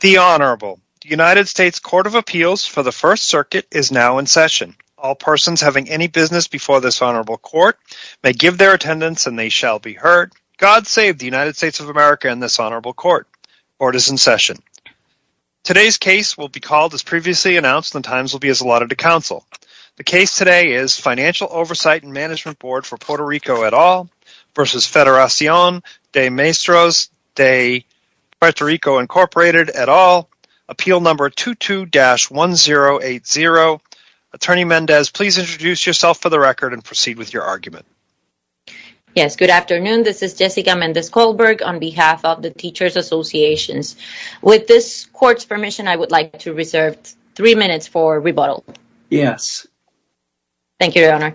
The Honorable. The United States Court of Appeals for the First Circuit is now in session. All persons having any business before this Honorable Court may give their attendance and they shall be heard. God save the United States of America and this Honorable Court. Court is in session. Today's case will be called as previously announced and the times will be allotted to counsel. The case today is Financial Oversight and Management Board for Puerto Rico et al. v. Federacion de Maestros de Puerto Rico, Inc. et al. Appeal number 22-1080. Attorney Mendez, please introduce yourself for the record and proceed with your argument. Yes, good afternoon. This is Jessica Mendez-Kohlberg on behalf of the Teachers Association. With this Court's permission, I would like to reserve three minutes for rebuttal. Yes. Thank you, Your Honor.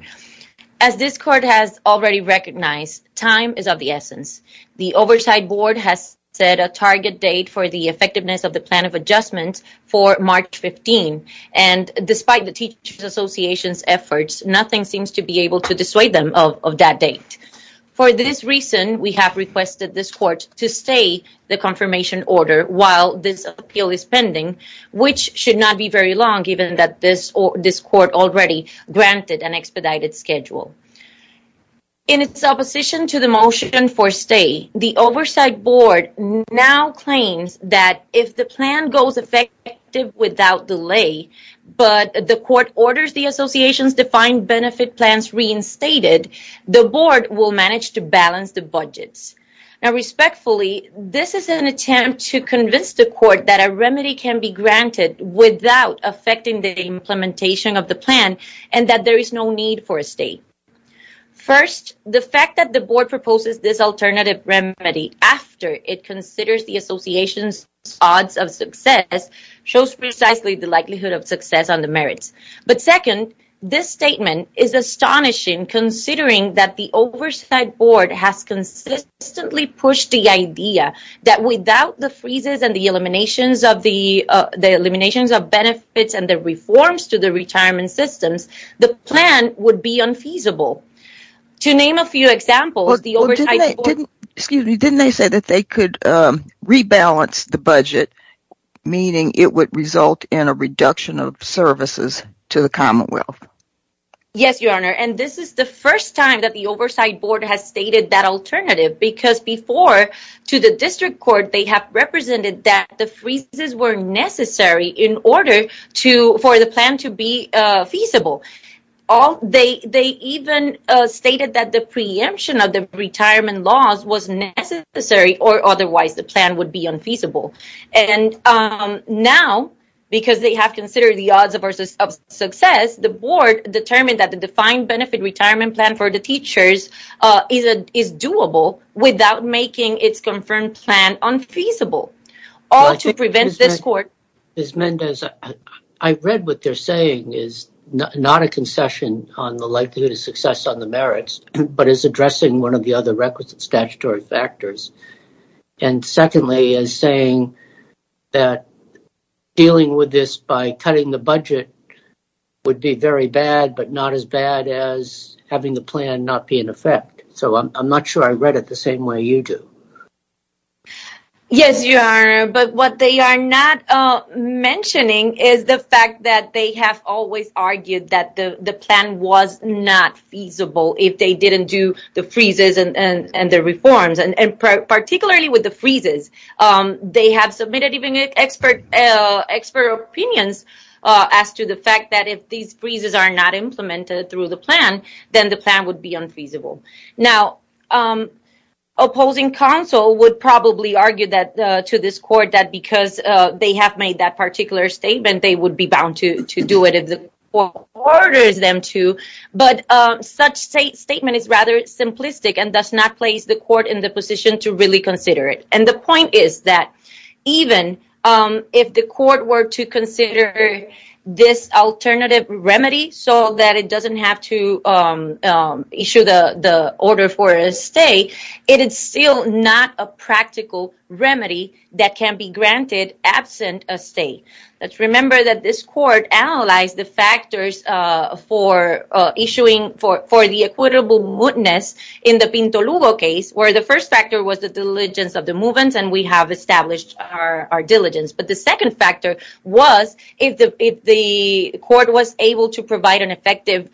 As this Court has already recognized, time is of the essence. The Oversight Board has set a target date for the effectiveness of the Plan of Adjustment for March 15, and despite the Teachers Association's efforts, nothing seems to be able to dissuade them of that date. For this reason, we have requested this Court to say the confirmation order while this appeal is pending, which should not be very long given that this Court already granted an expedited schedule. In its opposition to the motion for stay, the Oversight Board now claims that if the plan goes effective without delay, but the Court orders the Association's defined benefit plans reinstated, the Board will manage to balance the budget. Respectfully, this is an attempt to convince the Court that a remedy can be granted without affecting the implementation of the plan and that there is no need for a stay. First, the fact that the Board proposes this alternative remedy after it considers the Association's odds of success shows precisely the likelihood of success on the merits. But second, this statement is astonishing considering that the Oversight Board has consistently pushed the idea that without the freezes and the eliminations of benefits and the reforms to the retirement system, the plan would be unfeasible. To name a few examples, the Oversight Board... Yes, Your Honor, and this is the first time that the Oversight Board has stated that alternative because before, to the District Court, they have represented that the freezes were necessary in order for the plan to be feasible. They even stated that the preemption of the retirement laws was necessary or otherwise the plan would be unfeasible. And now, because they have considered the odds of success, the Board determined that the defined benefit retirement plan for the teachers is doable without making its confirmed plan unfeasible, all to prevent this Court... Ms. Mendez, I read what they're saying is not a concession on the likelihood of success on the merits, but is addressing one of the other requisite statutory factors. And secondly, is saying that dealing with this by cutting the budget would be very bad, but not as bad as having the plan not be in effect. So, I'm not sure I read it the same way you do. Yes, Your Honor, but what they are not mentioning is the fact that they have always argued that the plan was not feasible if they didn't do the freezes and the reforms. And particularly with the freezes, they have submitted even expert opinions as to the fact that if these freezes are not implemented through the plan, then the plan would be unfeasible. Now, opposing counsel would probably argue to this Court that because they have made that particular statement, they would be bound to do it if the Court ordered them to, but such statement is rather simplistic and does not place the Court in the position to really consider it. And the point is that even if the Court were to consider this alternative remedy so that it doesn't have to issue the order for a stay, it is still not a practical remedy that can be granted absent a stay. Let's remember that this Court analyzed the factors for issuing for the equitable witness in the Pinto Lugo case where the first factor was the diligence of the movements and we have established our diligence. But the second factor was if the Court was able to provide an effective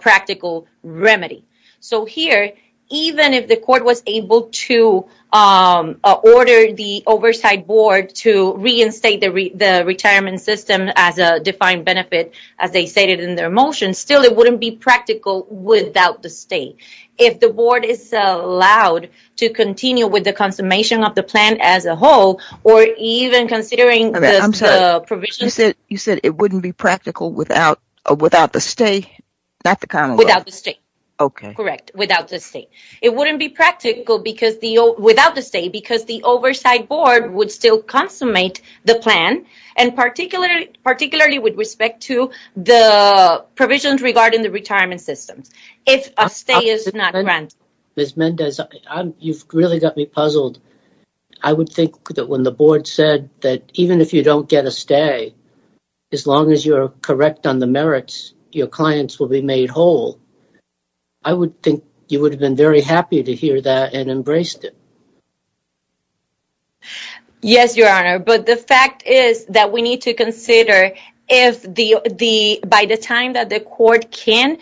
practical remedy. So here, even if the Court was able to order the Oversight Board to reinstate the retirement system as a defined benefit as they stated in their motion, still it wouldn't be practical without the stay. If the Board is allowed to continue with the consummation of the plan as a whole or even considering the provision... You said it wouldn't be practical without the stay? Without the stay. Okay. Correct, without the stay. It wouldn't be practical without the stay because the Oversight Board would still consummate the plan and particularly with respect to the provisions regarding the retirement system if a stay is not granted. Ms. Mendez, you've really got me puzzled. I would think that when the Board said that even if you don't get a stay, as long as you are correct on the merits, your clients will be made whole. I would think you would have been very happy to hear that and embraced it. Yes, Your Honor. But the fact is that we need to consider if by the time that the Court can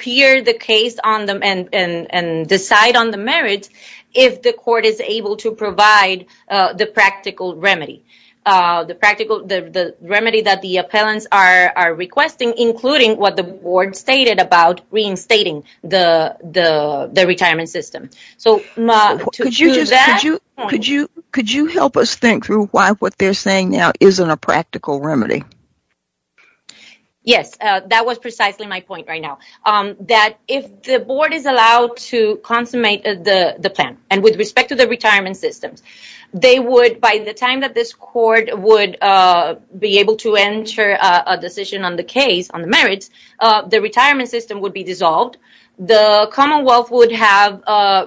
hear the case and decide on the merits, if the Court is able to provide the practical remedy. The remedy that the appellants are requesting including what the Board stated about reinstating the retirement system. Could you help us think through why what they're saying now isn't a practical remedy? Yes, that was precisely my point right now. That if the Board is allowed to consummate the plan and with respect to the retirement system, by the time that this Court would be able to enter a decision on the case, on the merits, the retirement system would be dissolved. The Commonwealth would have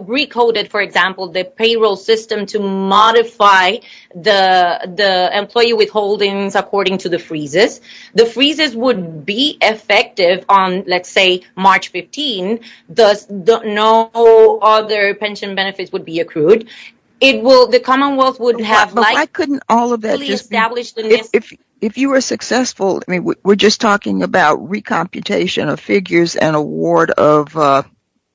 recoded, for example, the payroll system to modify the employee withholdings according to the freezes. The freezes would be effective on, let's say, March 15. No other pension benefits would be accrued. The Commonwealth would have likely established the merits. If you were successful, we're just talking about recomputation of figures and award of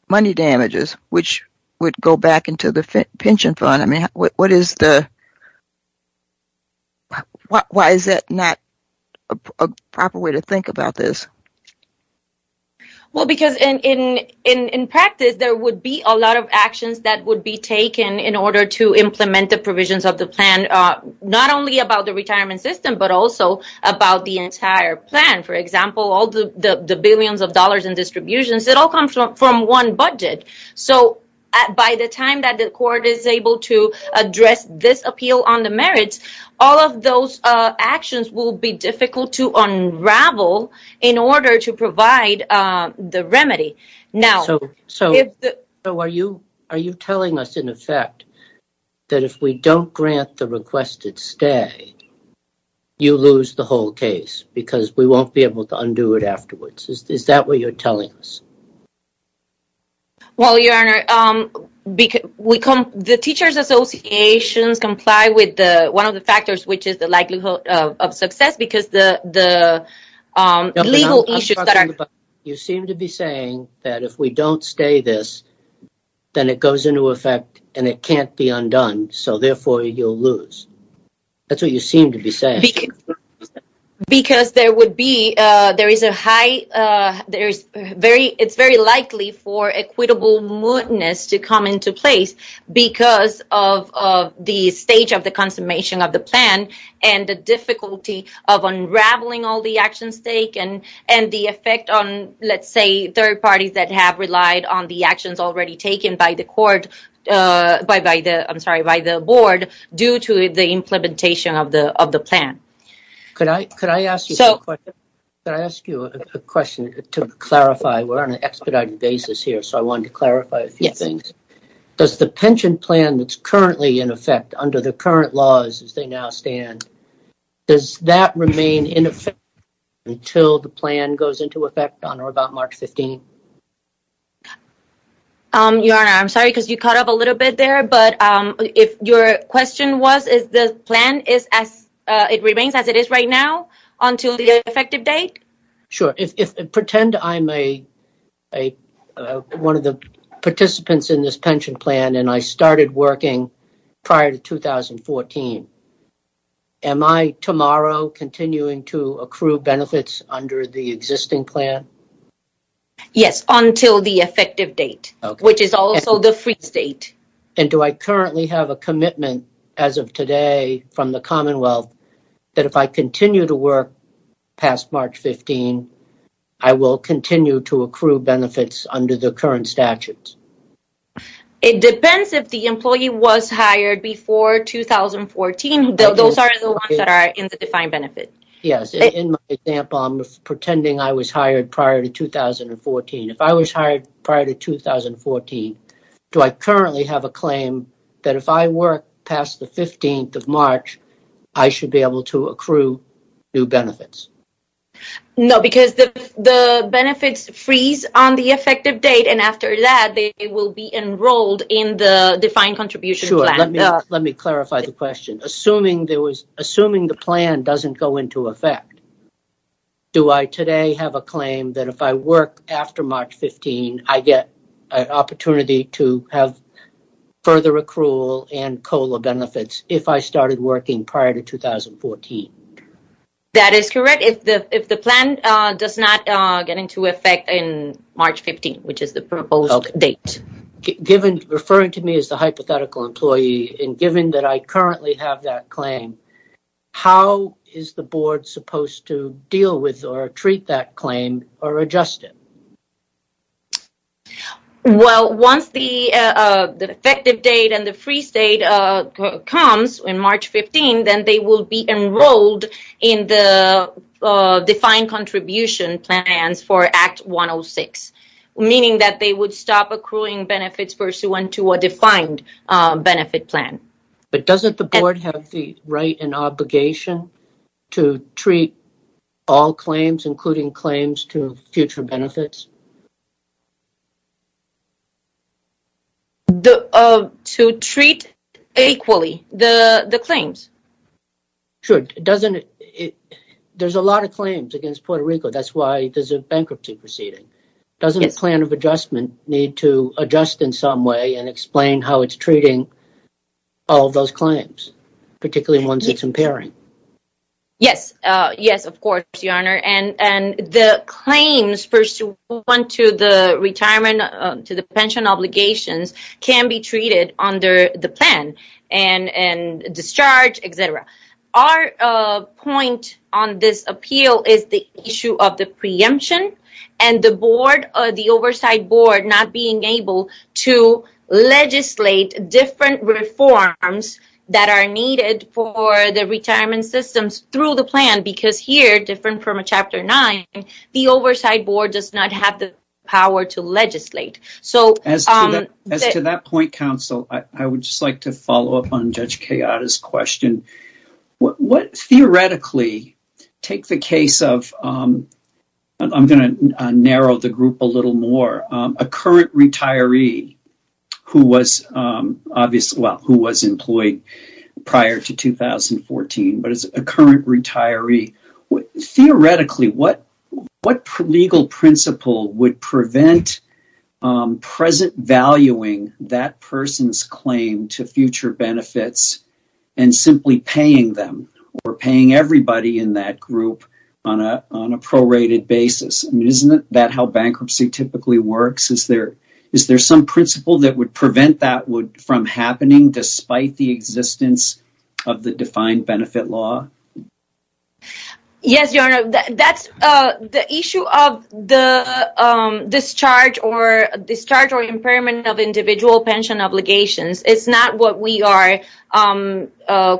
money damages, which would go back into the pension fund. Why is that not a proper way to think about this? Well, because in practice, there would be a lot of actions that would be taken in order to implement the provisions of the plan, not only about the retirement system, but also about the entire plan. For example, all the billions of dollars in distributions, it all comes from one budget. By the time that the Court is able to address this appeal on the merits, all of those actions will be difficult to unravel in order to provide the remedy. Are you telling us, in effect, that if we don't grant the requested stay, you lose the whole case because we won't be able to undo it afterwards? Is that what you're telling us? Well, Your Honor, the Teachers Association complies with one of the factors, which is the likelihood of success, because the legal issues... You seem to be saying that if we don't stay this, then it goes into effect and it can't be undone, so therefore you'll lose. That's what you seem to be saying. Because it's very likely for equitable mootness to come into place because of the stage of the consummation of the plan and the difficulty of unraveling all the actions taken and the effect on, let's say, third parties that have relied on the actions already taken by the Board due to the implementation of the plan. Could I ask you a question to clarify? We're on an expedited basis here, so I wanted to clarify a few things. Does the pension plan that's currently in effect under the current laws, as they now stand, does that remain in effect until the plan goes into effect on or about March 15th? Your Honor, I'm sorry because you caught up a little bit there, but if your question was, does the plan remain as it is right now until the effective date? Sure. Pretend I'm one of the participants in this pension plan and I started working prior to 2014. Am I tomorrow continuing to accrue benefits under the existing plan? Yes, until the effective date, which is also the free date. Do I currently have a commitment as of today from the Commonwealth that if I continue to work past March 15th, I will continue to accrue benefits under the current statutes? It depends if the employee was hired before 2014. Those are the ones that are in the defined benefits. Yes. In my example, I'm pretending I was hired prior to 2014. If I was hired prior to 2014, do I currently have a claim that if I work past the 15th of March, I should be able to accrue new benefits? No, because the benefits freeze on the effective date and after that, they will be enrolled in the defined contribution plan. Sure. Let me clarify the question. Assuming the plan doesn't go into effect, do I today have a claim that if I work after March 15th, I get an opportunity to have further accrual and COLA benefits if I started working prior to 2014? That is correct. If the plan does not get into effect in March 15th, which is the proposed date. Referring to me as the hypothetical employee, and given that I currently have that claim, how is the board supposed to deal with or treat that claim or adjust it? Well, once the effective date and the freeze date comes in March 15th, then they will be enrolled in the defined contribution plan for Act 106, meaning that they would stop accruing benefits pursuant to a defined benefit plan. But doesn't the board have the right and obligation to treat all claims, including claims to future benefits? To treat equally the claims. Sure. There's a lot of claims against Puerto Rico. That's why there's a bankruptcy proceeding. Doesn't a plan of adjustment need to adjust in some way and explain how it's treating all of those claims, particularly ones it's impairing? Yes. Yes, of course, Your Honor. And the claims pursuant to the pension obligations can be treated under the plan and discharge, et cetera. Our point on this appeal is the issue of the preemption and the oversight board not being able to legislate different reforms that are needed for the retirement systems through the plan, because here, different from Chapter 9, the oversight board does not have the power to legislate. As to that point, counsel, I would just like to follow up on Judge Cayada's question. What theoretically, take the case of, I'm going to narrow the group a little more, a current retiree who was employed prior to 2014, but is a current retiree. Theoretically, what legal principle would prevent present valuing that person's claim to future benefits and simply paying them or paying everybody in that group on a prorated basis? Isn't that how bankruptcy typically works? Is there some principle that would prevent that from happening despite the existence of the defined benefit law? Yes, Your Honor. The issue of the discharge or impairment of individual pension obligations is not what we are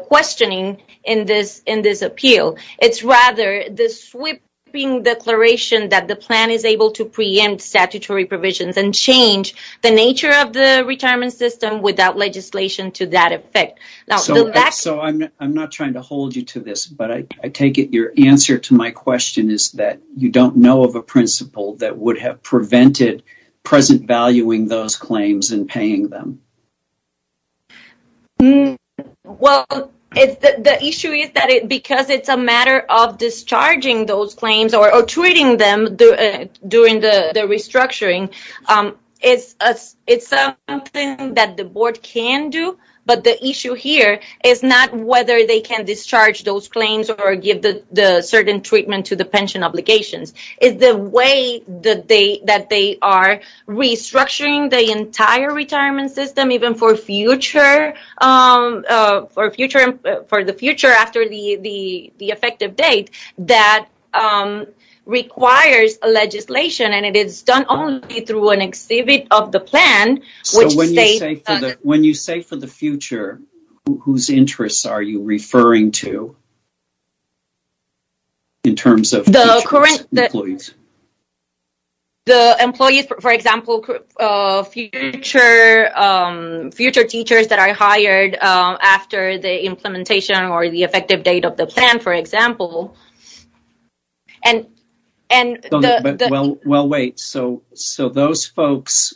questioning in this appeal. It's rather the sweeping declaration that the plan is able to preempt statutory provisions and change the nature of the retirement system without legislation to that effect. I'm not trying to hold you to this, but I take it your answer to my question is that you don't know of a principle that would have prevented present valuing those claims and paying them. Well, the issue is that because it's a matter of discharging those claims or treating them during the restructuring, it's something that the board can do, but the issue here is not whether they can discharge those claims or give the certain treatment to the pension obligations. It's the way that they are restructuring the entire retirement system, even for the future after the effective date, that requires legislation, and it is done only through an exhibit of the plan. So when you say for the future, whose interests are you referring to? In terms of the employees. The employees, for example, future teachers that are hired after the implementation or the effective date of the plan, for example. Well, wait, so those folks,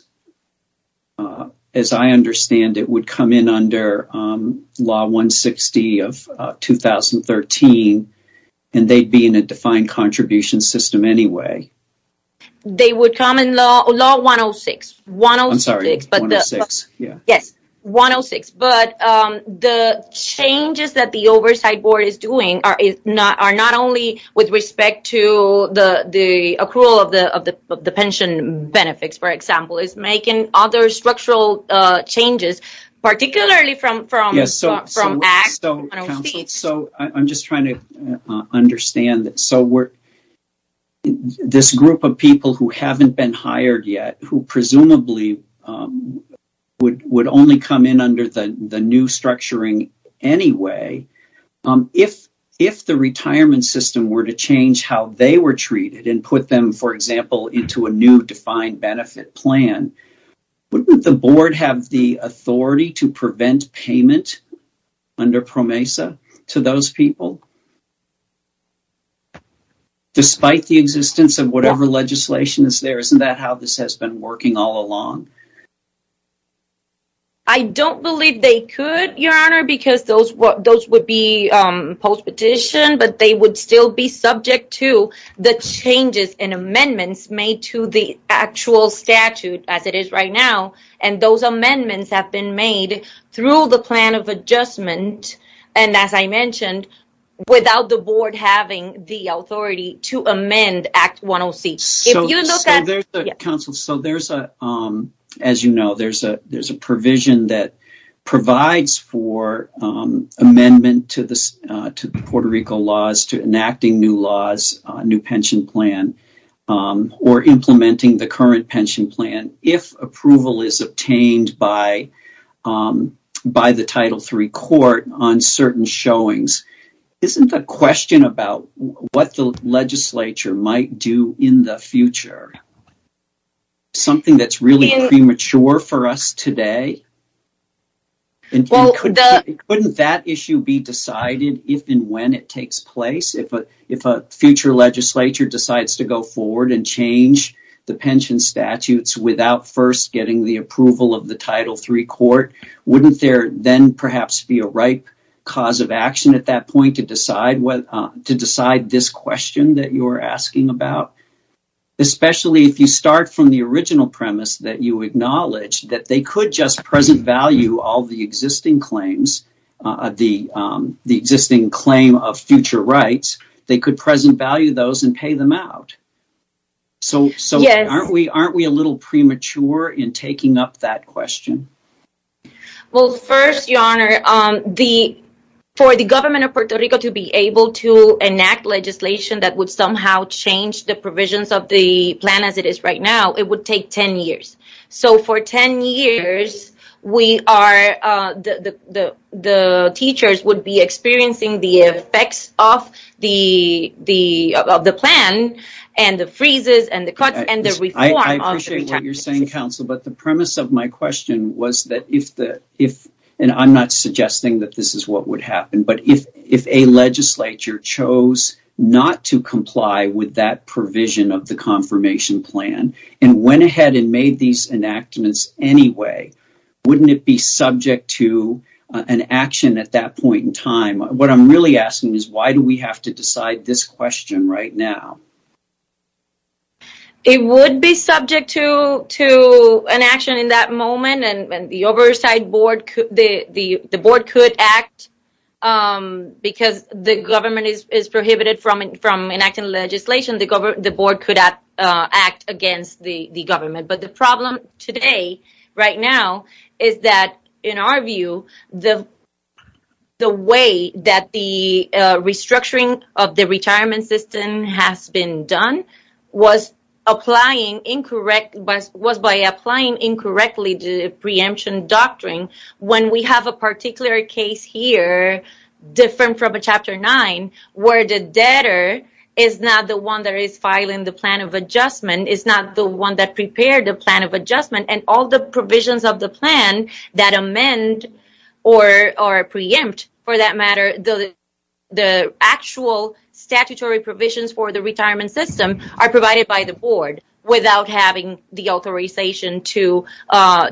as I understand it, would come in under Law 160 of 2013, and they'd be in a defined contribution system anyway. They would come in Law 106. I'm sorry, 106, yeah. Yes, 106, but the changes that the oversight board is doing are not only with respect to the accrual of the pension benefits, for example. It's making other structural changes, particularly from ACTS. So I'm just trying to understand. So this group of people who haven't been hired yet, who presumably would only come in under the new structuring anyway, if the retirement system were to change how they were treated and put them, for example, into a new defined benefit plan, wouldn't the board have the authority to prevent payment under PROMESA to those people? Despite the existence of whatever legislation is there, isn't that how this has been working all along? I don't believe they could, Your Honor, because those would be post-petition, but they would still be subject to the changes and amendments made to the actual statute as it is right now, and those amendments have been made through the plan of adjustment, and as I mentioned, without the board having the authority to amend Act 106. So there's a, as you know, there's a provision that provides for amendment to the Puerto Rico laws to enacting new laws, new pension plan, or implementing the current pension plan if approval is obtained by the Title III court on certain showings. Isn't the question about what the legislature might do in the future something that's really premature for us today? Couldn't that issue be decided if and when it takes place? If a future legislature decides to go forward and change the pension statutes without first getting the approval of the Title III court, wouldn't there then perhaps be a right cause of action at that point to decide this question that you're asking about? Especially if you start from the original premise that you acknowledge that they could just present value all the existing claims, the existing claim of future rights, they could present value those and pay them out. So aren't we a little premature in taking up that question? Well, first, Your Honor, for the government of Puerto Rico to be able to enact legislation that would somehow change the provisions of the plan as it is right now, it would take 10 years. So for 10 years, the teachers would be experiencing the effects of the plan and the freezes and the cuts and the reform. I appreciate what you're saying, Counsel, but the premise of my question was that if, and I'm not suggesting that this is what would happen, but if a legislature chose not to comply with that provision of the confirmation plan and went ahead and made these enactments anyway, wouldn't it be subject to an action at that point in time? What I'm really asking is why do we have to decide this question right now? It would be subject to an action in that moment, and the oversight board could act because the government is prohibited from enacting legislation. The board could act against the government. But the problem today, right now, is that in our view, the way that the restructuring of the retirement system has been done was by applying incorrectly the preemption doctrine. When we have a particular case here, different from Chapter 9, where the debtor is not the one that is filing the plan of adjustment, is not the one that prepared the plan of adjustment, and all the provisions of the plan that amend or preempt, for that matter, the actual statutory provisions for the retirement system are provided by the board without having the authorization to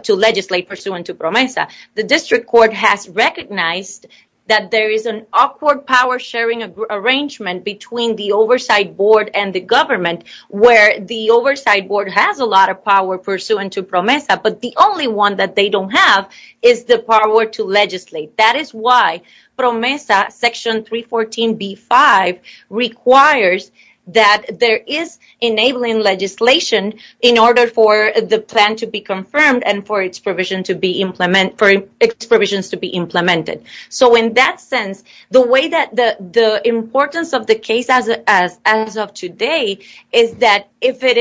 legislate pursuant to PROMESA. The district court has recognized that there is an awkward power sharing arrangement between the oversight board and the government, where the oversight board has a lot of power pursuant to PROMESA, but the only one that they don't have is the power to legislate. That is why PROMESA Section 314b-5 requires that there is enabling legislation in order for the plan to be confirmed and for its provisions to be implemented. So in that sense, the importance of the case as of today is that if it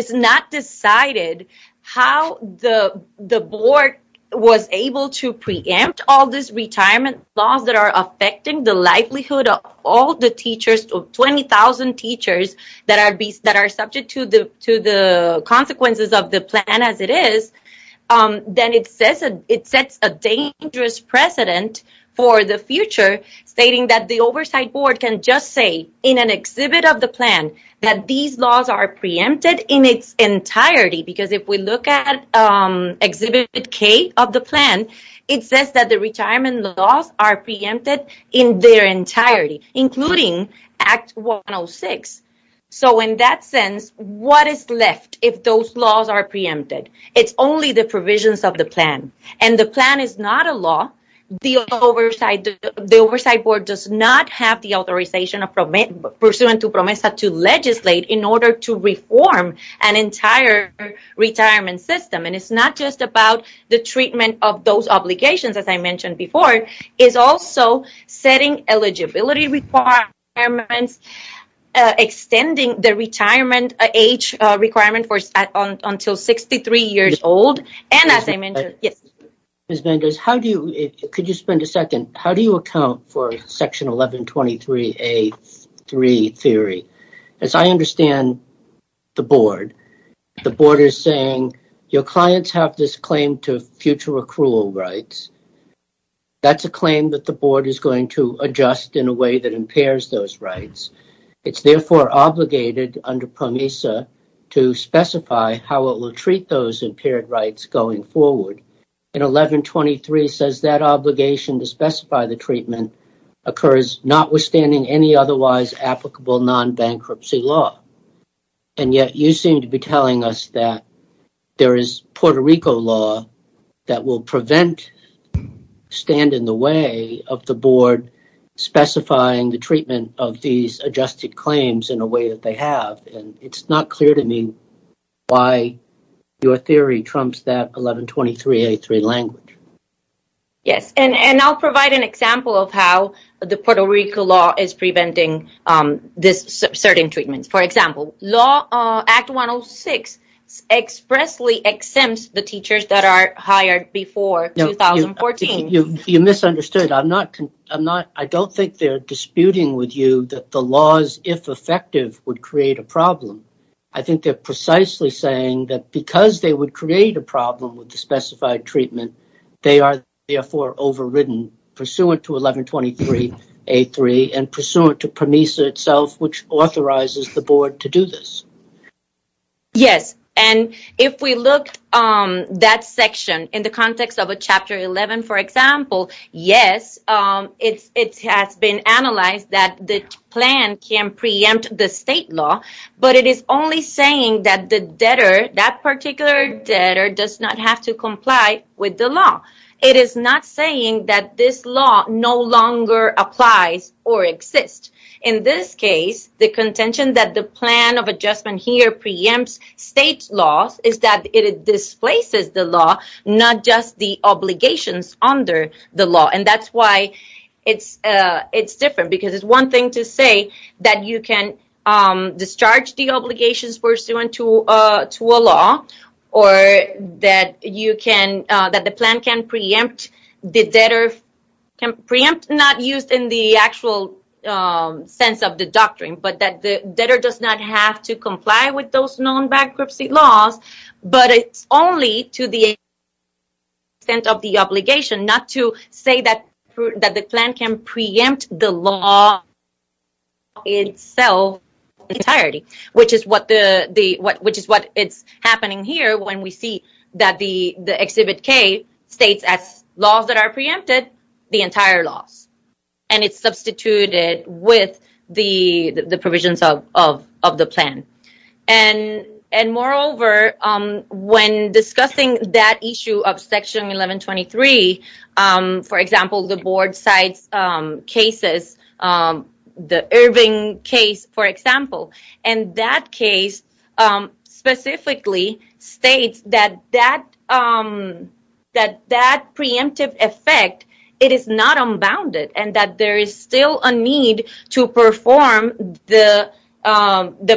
is not decided how the board was able to preempt all these retirement laws that are affecting the livelihood of all the teachers, of 20,000 teachers that are subject to the consequences of the plan as it is, then it sets a dangerous precedent for the future stating that the oversight board can just say in an exhibit of the plan that these laws are preempted in its entirety, because if we look at Exhibit K of the plan, it says that the retirement laws are preempted in their entirety, including Act 106. So in that sense, what is left if those laws are preempted? It's only the provisions of the plan, and the plan is not a law. The oversight board does not have the authorization of Pursuant to PROMESA to legislate in order to reform an entire retirement system. And it's not just about the treatment of those obligations, as I mentioned before. It's also setting eligibility requirements, extending the retirement age requirement until 63 years old. Ms. Mendez, could you spend a second? How do you account for Section 1123A3 theory? As I understand the board, the board is saying, your clients have this claim to future accrual rights. That's a claim that the board is going to adjust in a way that impairs those rights. It's therefore obligated under PROMESA to specify how it will treat those impaired rights going forward. And 1123 says that obligation to specify the treatment occurs notwithstanding any otherwise applicable non-bankruptcy law. And yet you seem to be telling us that there is Puerto Rico law that will prevent, stand in the way of the board specifying the treatment of these adjusted claims in a way that they have. And it's not clear to me why your theory trumps that 1123A3 language. Yes, and I'll provide an example of how the Puerto Rico law is preventing this certain treatment. For example, Act 106 expressly exempts the teachers that are hired before 2014. You misunderstood. I don't think they're disputing with you that the laws, if effective, would create a problem. I think they're precisely saying that because they would create a problem with the specified treatment, they are therefore overridden, pursuant to 1123A3 and pursuant to PROMESA itself, which authorizes the board to do this. Yes, and if we look at that section in the context of a Chapter 11, for example, yes, it has been analyzed that this plan can preempt the state law, but it is only saying that that particular debtor does not have to comply with the law. It is not saying that this law no longer applies or exists. In this case, the contention that the plan of adjustment here preempts state law is that it displaces the law, not just the obligations under the law. That's why it's different, because it's one thing to say that you can discharge the obligations pursuant to a law or that the plan can preempt the debtor. Preempt is not used in the actual sense of the doctrine, but that the debtor does not have to comply with those known bankruptcy laws, but it's only to the extent of the obligation, not to say that the plan can preempt the law itself entirely, which is what is happening here when we see that the Exhibit K states as laws that are preempted the entire law, and it's substituted with the provisions of the plan. Moreover, when discussing that issue of Section 1123, for example, the board-side cases, the Irving case, for example, and that case specifically states that that preemptive effect, it is not unbounded and that there is still a need to perform the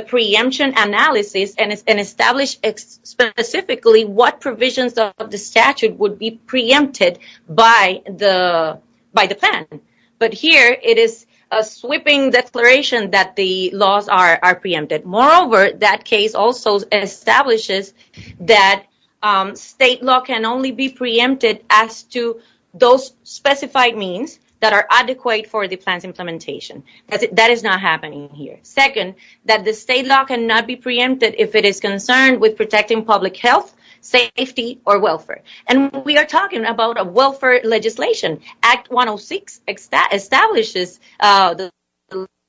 preemption analysis and establish specifically what provisions of the statute would be preempted by the plan. But here it is a sweeping declaration that the laws are preempted. Moreover, that case also establishes that state law can only be preempted as to those specified means that are adequate for the plan's implementation. That is not happening here. Second, that the state law cannot be preempted if it is concerned with protecting public health, safety, or welfare. And we are talking about a welfare legislation. Act 106 establishes, the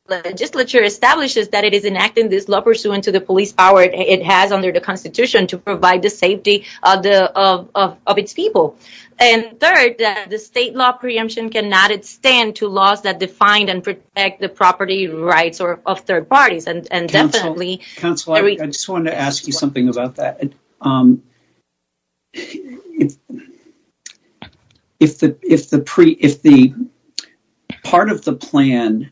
legislature establishes that it is enacting this law pursuant to the police power it has under the Constitution to provide the safety of its people. And third, that the state law preemption cannot extend to laws that define and protect the property rights of third parties. Council, I just want to ask you something about that. If part of the plan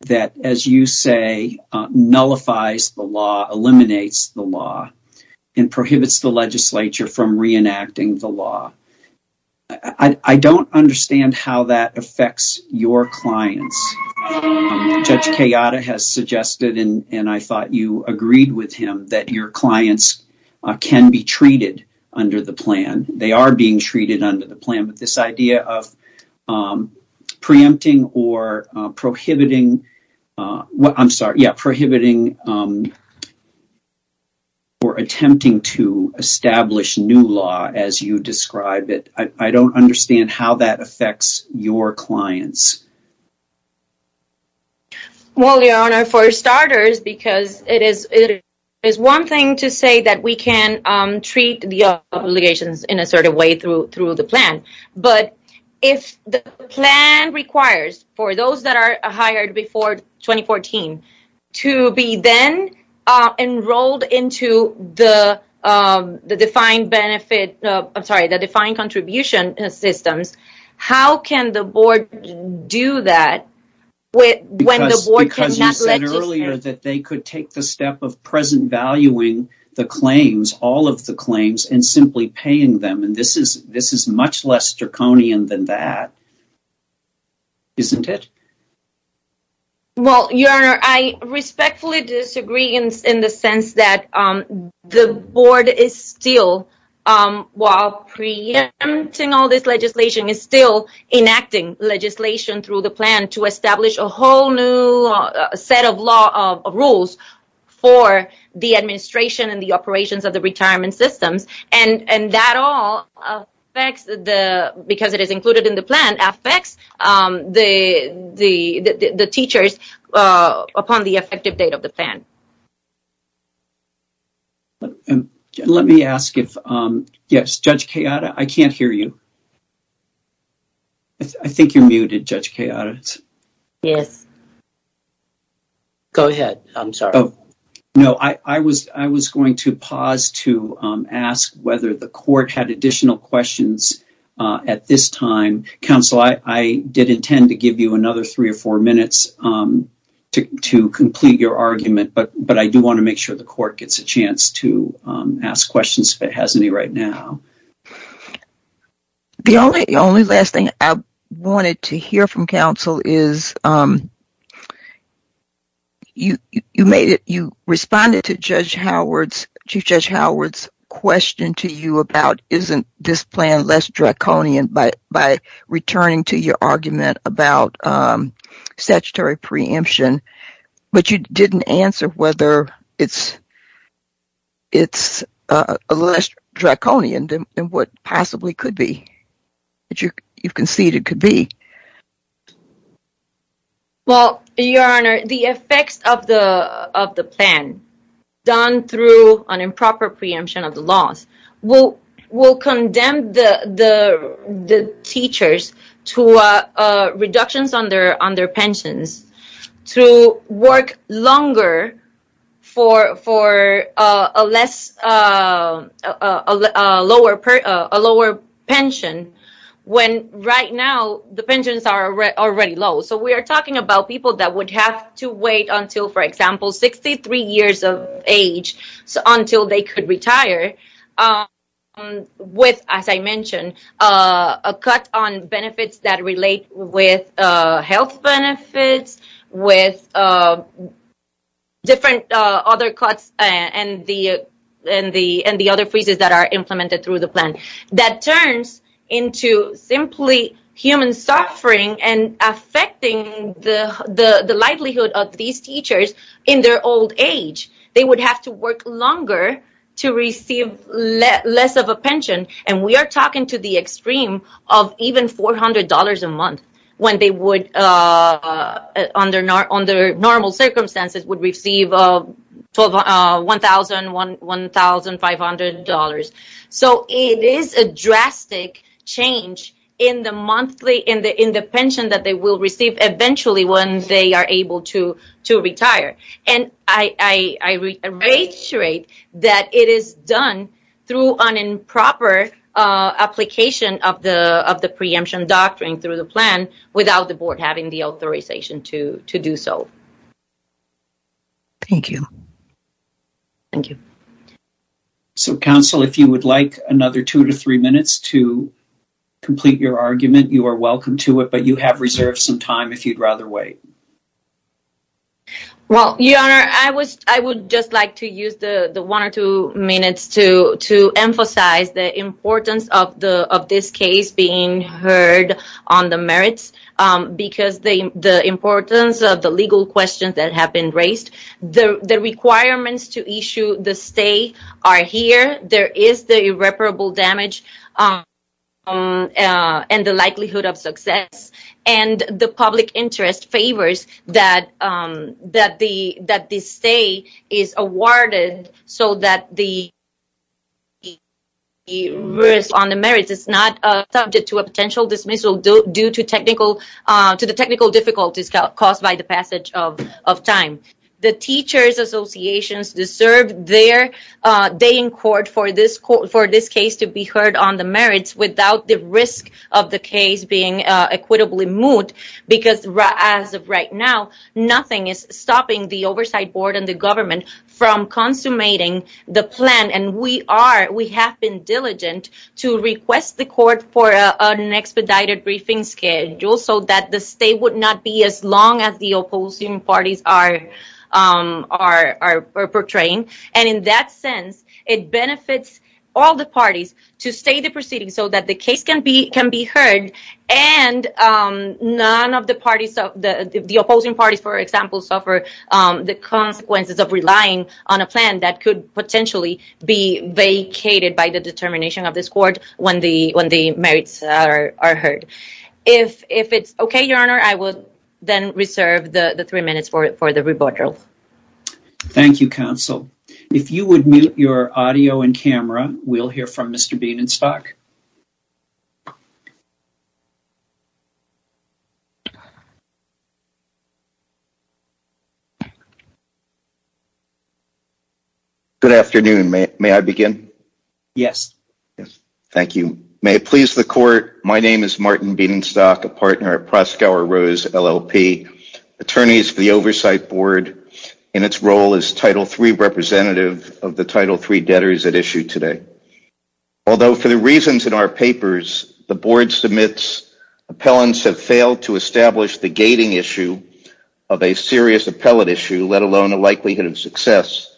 that, as you say, nullifies the law, eliminates the law, and prohibits the legislature from reenacting the law, I don't understand how that affects your clients. Judge Tejada has suggested, and I thought you agreed with him, that your clients can be treated under the plan. They are being treated under the plan. This idea of preempting or prohibiting, I'm sorry, prohibiting or attempting to establish new law as you describe it, I don't understand how that affects your clients. Well, your Honor, for starters, because it is one thing to say that we can treat the obligations in a certain way through the plan, but if the plan requires for those that are hired before 2014 to be then enrolled into the defined benefits, I'm sorry, the defined contribution systems, how can the board do that when the board cannot do that? Because you said earlier that they could take the step of present valuing the claims, all of the claims, and simply paying them, and this is much less draconian than that, isn't it? Well, your Honor, I respectfully disagree in the sense that the board is still, while preempting all this legislation, is still enacting legislation through the plan to establish a whole new set of rules for the administration and the operations of the retirement system, and that all affects, because it is included in the plan, affects the teachers upon the effective date of the plan. Let me ask if, yes, Judge Kayada, I can't hear you. I think you're muted, Judge Kayada. Yes. Go ahead. I'm sorry. No, I was going to pause to ask whether the court had additional questions at this time. Counsel, I did intend to give you another three or four minutes to complete your argument, but I do want to make sure the court gets a chance to ask questions if it has any right now. The only last thing I wanted to hear from counsel is you responded to Chief Judge Howard's question to you about isn't this plan less draconian by returning to your argument about statutory preemption, but you didn't answer whether it's less draconian than what possibly could be. You conceded it could be. Well, Your Honor, the effects of the plan, done through an improper preemption of the law, will condemn the teachers to reductions on their pensions, to work longer for a lower pension, when right now the pensions are already low. So we are talking about people that would have to wait until, for example, 63 years of age, until they could retire, with, as I mentioned, a cut on benefits that relate with health benefits, with different other cuts and the other freezes that are implemented through the plan. That turns into simply human suffering and affecting the livelihood of these teachers in their old age. They would have to work longer to receive less of a pension, and we are talking to the extreme of even $400 a month, when they would, under normal circumstances, would receive $1,000, $1,500. So it is a drastic change in the pension that they will receive eventually when they are able to retire. And I reiterate that it is done through an improper application of the preemption doctrine through the plan, without the Board having the authorization to do so. Thank you. Thank you. So, Counsel, if you would like another two to three minutes to complete your argument, you are welcome to it, but you have reserved some time if you'd rather wait. Well, Your Honor, I would just like to use the one or two minutes to emphasize the importance of this case being heard on the merits, because the importance of the legal questions that have been raised, the requirements to issue the stay are here, there is the irreparable damage and the likelihood of success, and the public interest favors that the stay is awarded so that the risk on the merits is not subject to a potential dismissal due to the technical difficulties caused by the passage of time. The teachers' associations deserve their day in court for this case to be heard on the merits, without the risk of the case being equitably moved, because as of right now, nothing is stopping the Oversight Board and the government from consummating the plan. And we have been diligent to request the court for an expedited briefing schedule so that the stay would not be as long as the opposing parties are portraying. And in that sense, it benefits all the parties to stay the proceedings so that the case can be heard and none of the parties, the opposing parties, for example, suffer the consequences of relying on a plan that could potentially be vacated by the determination of this court when the merits are heard. If it's okay, Your Honor, I will then reserve the three minutes for the rebuttal. Thank you, Counsel. If you would mute your audio and camera, we'll hear from Mr. Bienenstock. Good afternoon. May I begin? Yes. Thank you. May it please the court, my name is Martin Bienenstock, a partner at Proskauer Rose LLP, attorneys for the Oversight Board in its role as Title III representative of the Title III debtors at issue today. Although for the reasons in our papers, the board submits appellants have failed to establish the gating issue of a serious appellate issue, let alone a likelihood of success,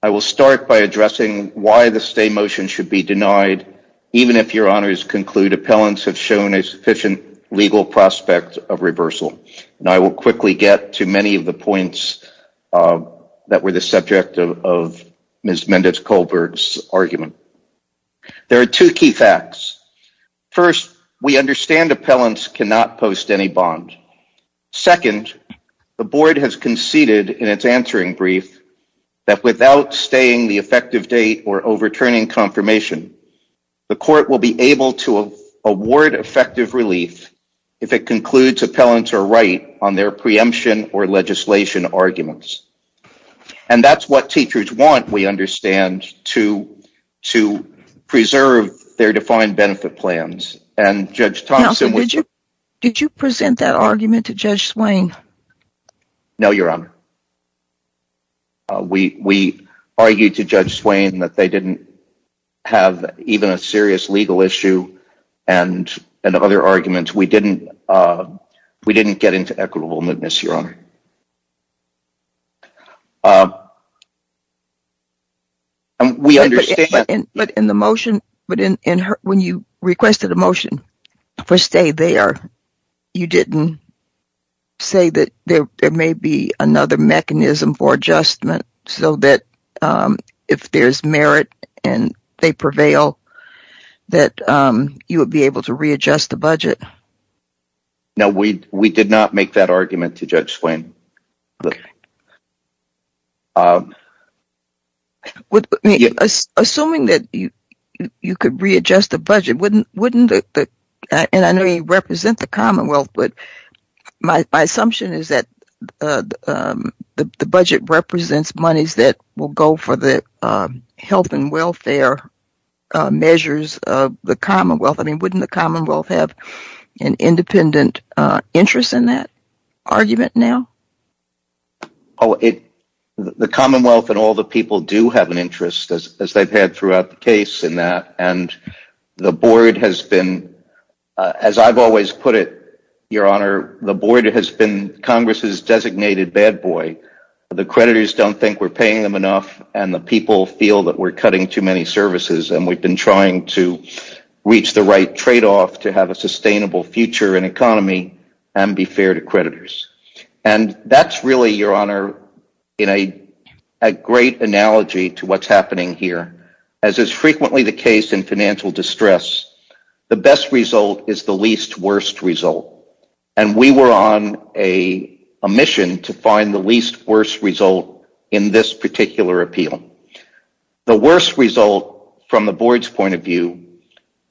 I will start by addressing why the stay motion should be denied even if Your Honors conclude appellants have shown a sufficient legal prospect of reversal. And I will quickly get to many of the points that were the subject of Ms. Mendez-Colbert's argument. There are two key facts. First, we understand appellants cannot post any bond. Second, the board has conceded in its answering brief that without staying the effective date or overturning confirmation, the court will be able to award effective relief if it concludes appellants are right on their preemption or legislation arguments. And that's what teachers want, we understand, to preserve their defined benefit plans. And Judge Thompson would you present that argument to Judge Swain? No, Your Honor. We argue to Judge Swain that they didn't have even a serious legal issue and other arguments. We didn't get into equitable moodness, Your Honor. But in the motion, when you requested the motion for stay there, you didn't say that there may be another mechanism for adjustment so that if there's merit and they prevail, that you would be able to readjust the budget. No, we did not make that argument to Judge Swain. And I know you represent the Commonwealth, but my assumption is that the budget represents monies that will go for the health and welfare measures of the Commonwealth. I mean, wouldn't the Commonwealth have an independent interest in that argument now? Oh, the Commonwealth and all the people do have an interest, as they've had throughout the case in that. And the board has been, as I've always put it, Your Honor, the board has been Congress's designated bad boy. The creditors don't think we're paying them enough and the people feel that we're cutting too many services and we've been trying to reach the right tradeoff to have a sustainable future and economy and be fair to creditors. And that's really, Your Honor, a great analogy to what's happening here. As is frequently the case in financial distress, the best result is the least worst result. And we were on a mission to find the least worst result in this particular appeal. The worst result, from the board's point of view,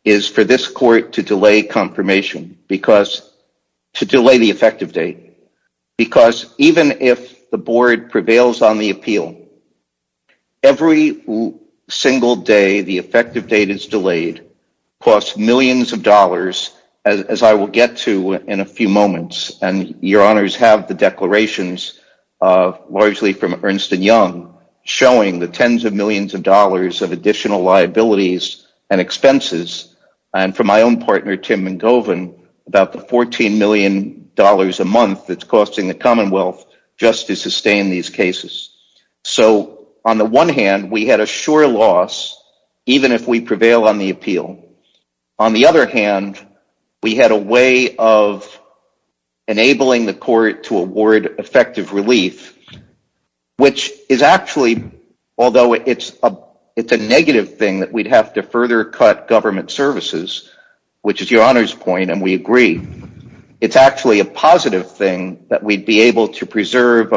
is for this court to delay confirmation, to delay the effective date. Because even if the board prevails on the appeal, every single day the effective date is delayed, costs millions of dollars, as I will get to in a few moments. And Your Honors have the declarations, largely from Ernst & Young, showing the tens of millions of dollars of additional liabilities and expenses. And from my own partner, Tim McGovan, about the $14 million a month that's costing the Commonwealth just to sustain these cases. So, on the one hand, we had a sure loss, even if we prevail on the appeal. On the other hand, we had a way of enabling the court to award effective relief, which is actually, although it's a negative thing that we'd have to further cut government services, which is Your Honor's point, and we agree, it's actually a positive thing that we'd be able to preserve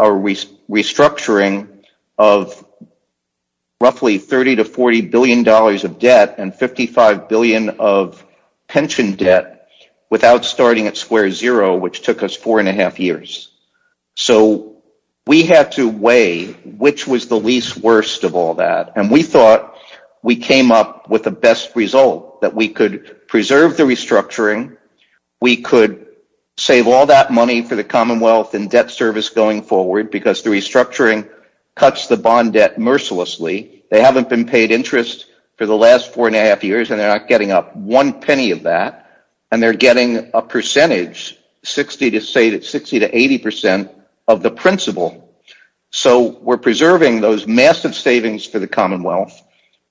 our restructuring of roughly $30 to $40 billion of debt and $55 billion of pension debt without starting at square zero, which took us four and a half years. So, we had to weigh which was the least worst of all that. And we thought we came up with the best result, that we could preserve the restructuring, we could save all that money for the Commonwealth and debt service going forward because the restructuring cuts the bond debt mercilessly. They haven't been paid interest for the last four and a half years and they're not getting up one penny of that, and they're getting a percentage, 60% to 80% of the principal. So, we're preserving those massive savings to the Commonwealth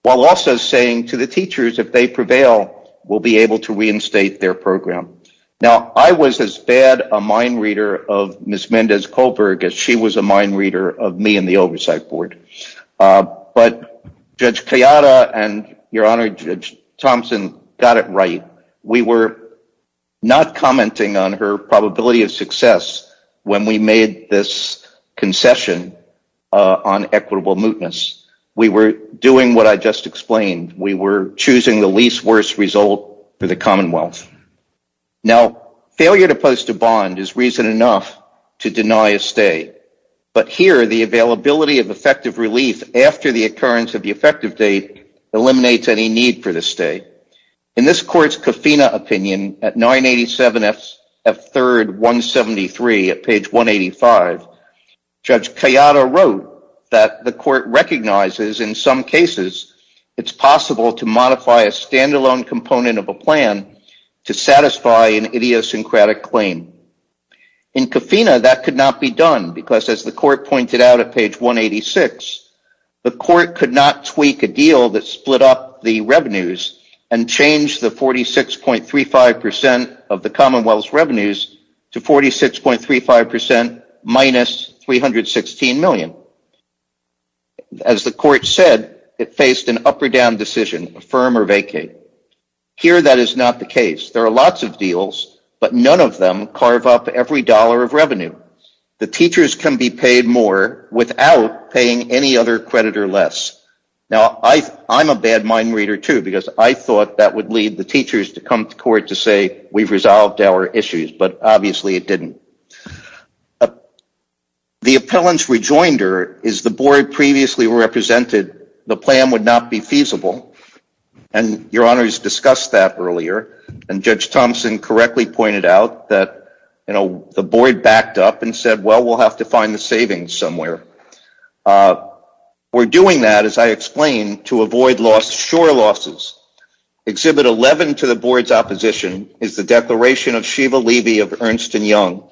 while also saying to the teachers, if they prevail, we'll be able to reinstate their program. Now, I was as bad a mind reader of Ms. Mendez-Kohlberg as she was a mind reader of me and the Oversight Board. But Judge Kayada and Your Honor, Judge Thompson, got it right. We were not commenting on her probability of success when we made this concession on equitable mootness. We were doing what I just explained. We were choosing the least worst result for the Commonwealth. Now, failure to post a bond is reason enough to deny a stay. But here, the availability of effective relief after the occurrence of the effective date eliminates any need for the stay. In this court's Kofina opinion at 987 F. 3rd 173 at page 185, Judge Kayada wrote that the court recognizes in some cases it's possible to modify a standalone component of a plan to satisfy an idiosyncratic claim. In Kofina, that could not be done because as the court pointed out at page 186, the court could not tweak a deal that split up the revenues and change the 46.35% of the Commonwealth's revenues to 46.35% minus $316 million. As the court said, it faced an up or down decision, affirm or vacate. Here, that is not the case. There are lots of deals, but none of them carve up every dollar of revenue. The teachers can be paid more without paying any other credit or less. Now, I'm a bad mind reader too because I thought that would lead the teachers to come to court to say we've resolved our issues, but obviously it didn't. The appellant's rejoinder is the board previously represented the plan would not be feasible, and Your Honor has discussed that earlier, and Judge Thompson correctly pointed out that the board backed up and said, well, we'll have to find the savings somewhere. We're doing that, as I explained, to avoid sure losses. Exhibit 11 to the board's opposition is the declaration of Sheva Levy of Ernst & Young.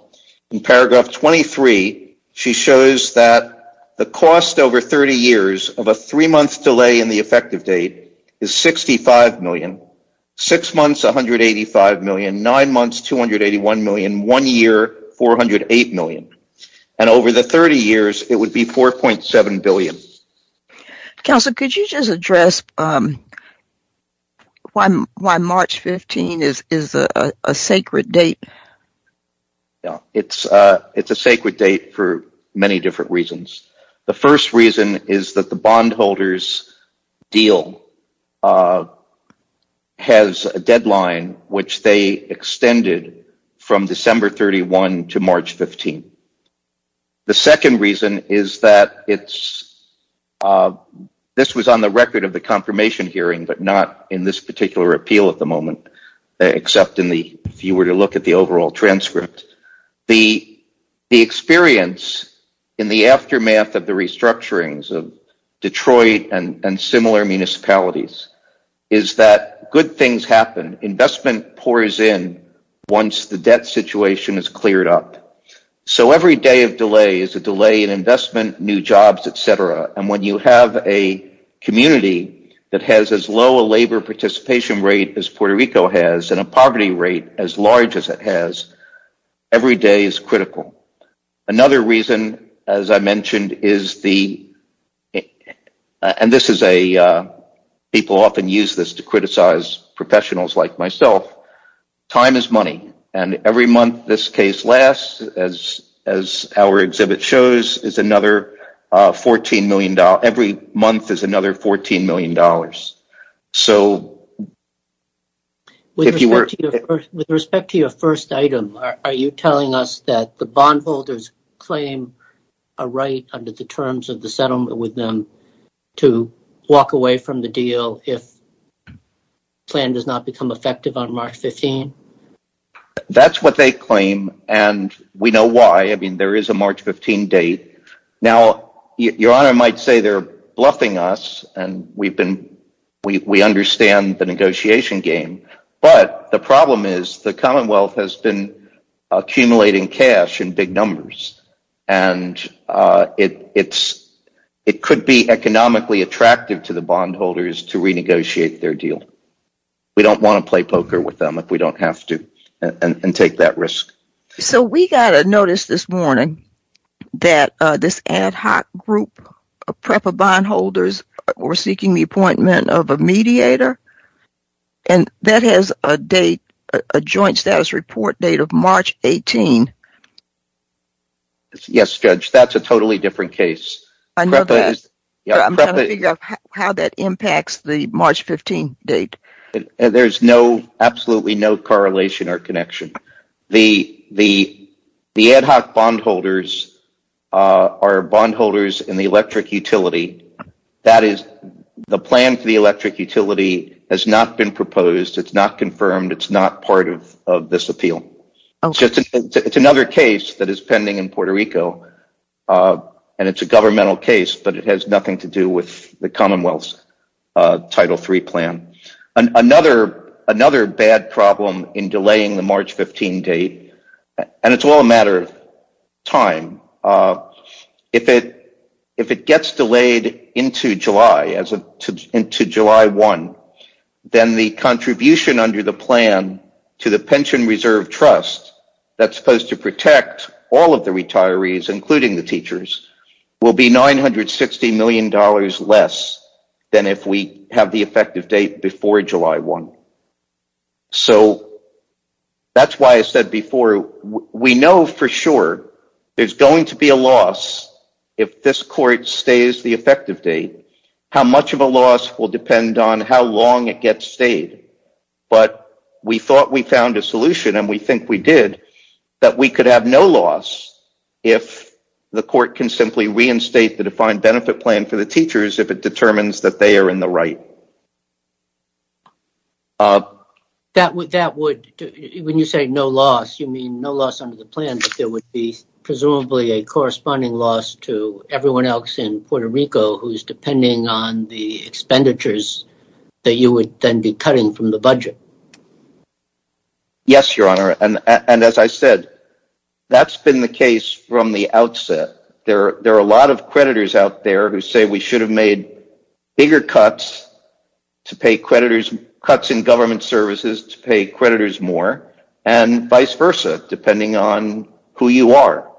In paragraph 23, she shows that the cost over 30 years of a three-month delay in the effective date is $65 million, six months, $185 million, nine months, $281 million, one year, $408 million, and over the 30 years, it would be $4.7 billion. Counselor, could you just address why March 15 is a sacred date? It's a sacred date for many different reasons. The first reason is that the bondholders' deal has a deadline which they extended from December 31 to March 15. The second reason is that this was on the record of the confirmation hearing but not in this particular appeal at the moment, except if you were to look at the overall transcript. The experience in the aftermath of the restructurings of Detroit and similar municipalities is that good things happen. Investment pours in once the debt situation is cleared up. Every day of delay is a delay in investment, new jobs, etc. When you have a community that has as low a labor participation rate as Puerto Rico has and a poverty rate as large as it has, every day is critical. Another reason, as I mentioned, people often use this to criticize professionals like myself, time is money. Every month this case lasts, as our exhibit shows, is another $14 million. Every month is another $14 million. With respect to your first item, are you telling us that the bondholders claim a right under the terms of the settlement with them to walk away from the deal if the plan does not become effective on March 15? That's what they claim, and we know why. There is a March 15 date. Now, Your Honor might say they're bluffing us and we understand the negotiation game, but the problem is the Commonwealth has been accumulating cash in big numbers and it could be economically attractive to the bondholders to renegotiate their deal. We don't want to play poker with them if we don't have to and take that risk. So we got a notice this morning that this ad hoc group of PREPA bondholders were seeking the appointment of a mediator and that has a joint status report date of March 18. Yes, Judge, that's a totally different case. I'm trying to figure out how that impacts the March 15 date. There's absolutely no correlation or connection. The ad hoc bondholders are bondholders in the electric utility. That is, the plan for the electric utility has not been proposed, it's not confirmed, it's not part of this appeal. It's another case that is pending in Puerto Rico and it's a governmental case, but it has nothing to do with the Commonwealth's Title III plan. Another bad problem in delaying the March 15 date, and it's all a matter of time, if it gets delayed into July 1, then the contribution under the plan to the Pension Reserve Trust that's supposed to protect all of the retirees, including the teachers, will be $960 million less than if we have the effective date before July 1. So that's why I said before, we know for sure there's going to be a loss if this court stays the effective date. How much of a loss will depend on how long it gets stayed. But we thought we found a solution, and we think we did, that we could have no loss if the court can simply reinstate the defined benefit plan for the teachers if it determines that they are in the right. When you say no loss, you mean no loss under the plan, but there would be presumably a corresponding loss to everyone else in Puerto Rico who's depending on the expenditures that you would then be cutting from the budget? Yes, Your Honor, and as I said, that's been the case from the outset. There are a lot of creditors out there who say we should have made bigger cuts to pay creditors, cuts in government services to pay creditors more, and vice versa, depending on who you are.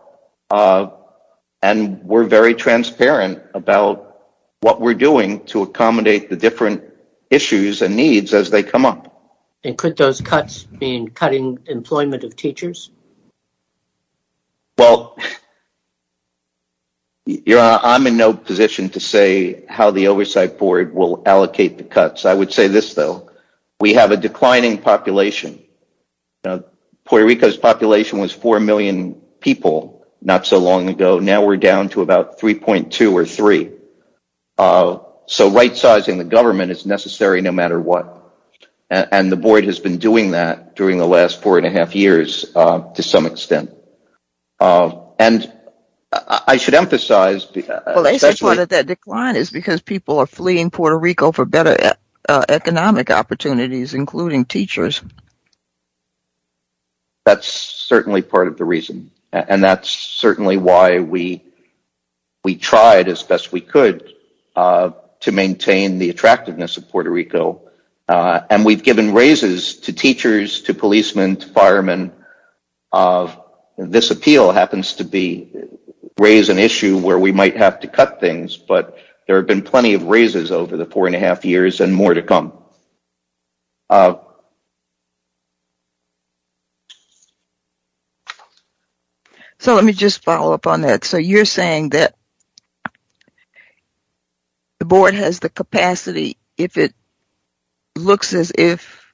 And we're very transparent about what we're doing to accommodate the different issues and needs as they come up. And could those cuts mean cutting employment of teachers? Well, Your Honor, I'm in no position to say how the Oversight Board will allocate the cuts. I would say this, though. We have a declining population. Puerto Rico's population was 4 million people not so long ago. Now we're down to about 3.2 or 3. So right-sizing the government is necessary no matter what. And the Board has been doing that during the last four and a half years to some extent. And I should emphasize... Well, they say part of that decline is because people are fleeing Puerto Rico for better economic opportunities, including teachers. That's certainly part of the reason. And that's certainly why we tried as best we could to maintain the attractiveness of Puerto Rico. And we've given raises to teachers, to policemen, to firemen. This appeal happens to raise an issue where we might have to cut things, but there have been plenty of raises over the four and a half years and more to come. So let me just follow up on that. So you're saying that the Board has the capacity if it looks as if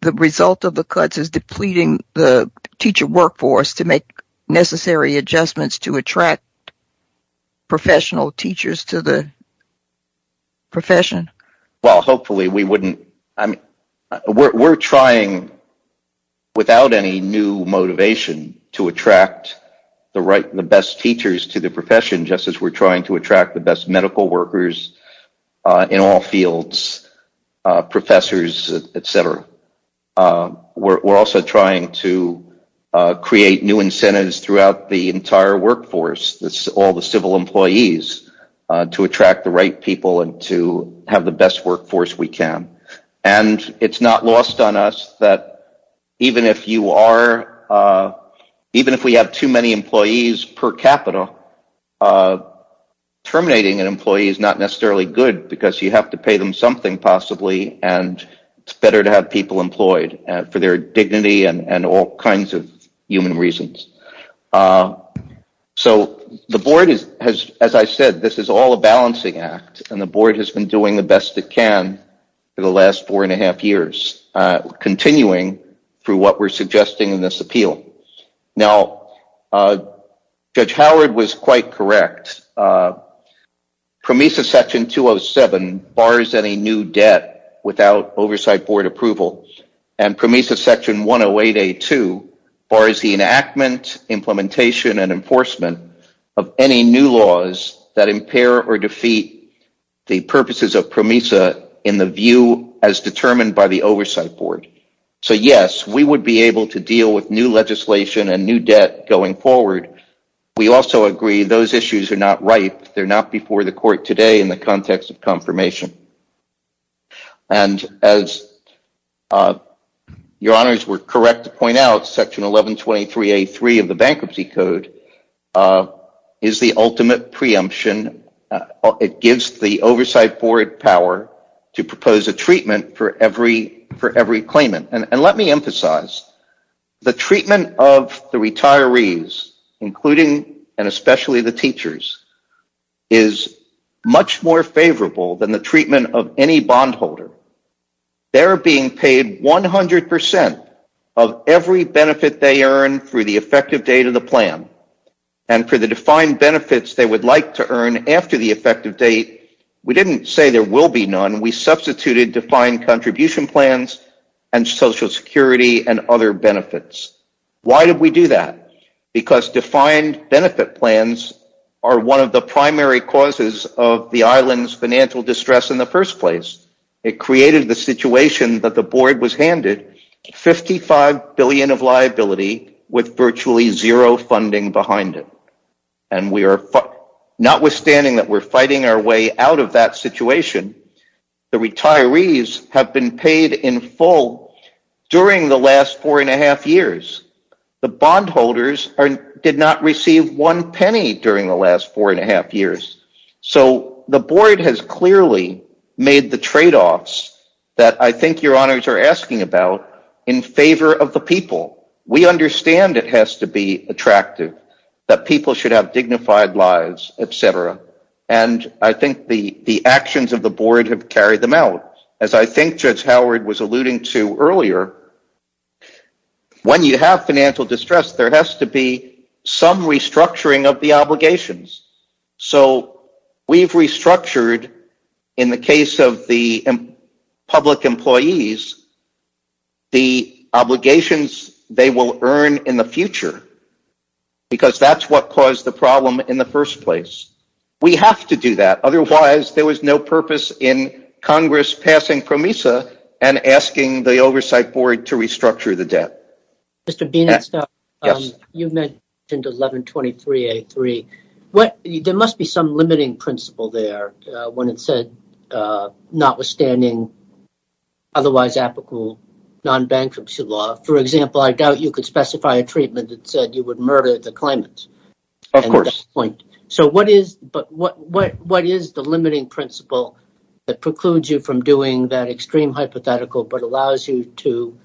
the result of the cuts is depleting the teacher workforce to make necessary adjustments to attract professional teachers to the profession? Well, hopefully we wouldn't... We're trying, without any new motivation, to attract the best teachers to the profession just as we're trying to attract the best medical workers in all fields, professors, et cetera. We're also trying to create new incentives throughout the entire workforce, all the civil employees, to attract the right people and to have the best workforce we can. And it's not lost on us that even if you are... Even if we have too many employees per capita, terminating an employee is not necessarily good because you have to pay them something possibly, and it's better to have people employed for their dignity and all kinds of human reasons. So the Board has... As I said, this is all a balancing act, and the Board has been doing the best it can for the last four and a half years, continuing through what we're suggesting in this appeal. Now, Judge Howard was quite correct. PROMESA Section 207 bars any new debt without Oversight Board approval, and PROMESA Section 108A2 bars the enactment, implementation, and enforcement of any new laws that impair or defeat the purposes of PROMESA in the view as determined by the Oversight Board. So, yes, we would be able to deal with new legislation and new debt going forward. We also agree those issues are not right. They're not before the Court today in the context of confirmation. And as Your Honors were correct to point out, Section 1123A3 of the Bankruptcy Code is the ultimate preemption. It gives the Oversight Board power to propose a treatment for every claimant. And let me emphasize, the treatment of the retirees, including and especially the teachers, is much more favorable than the treatment of any bondholder. They're being paid 100% of every benefit they earn through the effective date of the plan, and for the defined benefits they would like to earn after the effective date, we didn't say there will be none. We substituted defined contribution plans and Social Security and other benefits. Why did we do that? Because defined benefit plans are one of the primary causes of the island's financial distress in the first place. It created the situation that the Board was handed $55 billion of liability with virtually zero funding behind it. And notwithstanding that we're fighting our way out of that situation, the retirees have been paid in full during the last four and a half years. The bondholders did not receive one penny during the last four and a half years. So the Board has clearly made the trade-offs that I think Your Honors are asking about in favor of the people. We understand it has to be attractive, that people should have dignified lives, etc. And I think the actions of the Board have carried them out. As I think Judge Howard was alluding to earlier, when you have financial distress, there has to be some restructuring of the obligations. So we've restructured, in the case of the public employees, the obligations they will earn in the future. Because that's what caused the problem in the first place. We have to do that. Otherwise there was no purpose in Congress passing PROMESA and asking the Oversight Board to restructure the debt. Mr. Beenex, you mentioned 1123A3. There must be some limiting principle there when it said notwithstanding otherwise applicable non-bankruptcy law. For example, I doubt you could specify a treatment that said you would murder the claimants. Of course. So what is the limiting principle that precludes you from doing that extreme hypothetical but allows you to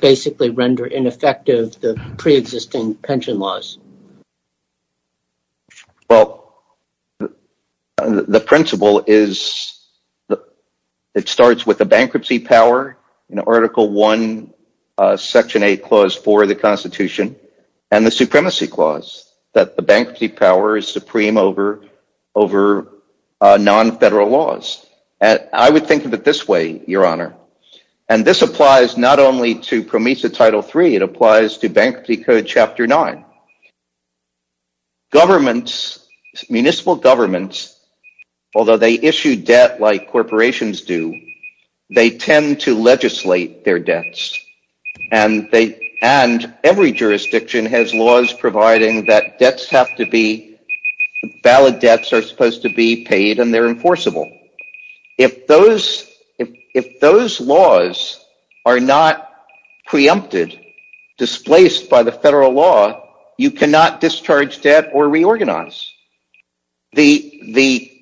basically render ineffective the pre-existing pension laws? Well, the principle is it starts with the bankruptcy power in Article 1, Section 8, Clause 4 of the Constitution and the Supremacy Clause that the bankruptcy power is supreme over non-federal laws. I would think of it this way, Your Honor. And this applies not only to PROMESA Title 3, it applies to Bankruptcy Code Chapter 9. Governments, municipal governments, although they issue debt like corporations do, they tend to legislate their debts. And every jurisdiction has laws providing that valid debts are supposed to be paid and they're enforceable. If those laws are not preempted, displaced by the federal law, you cannot discharge debt or reorganize. The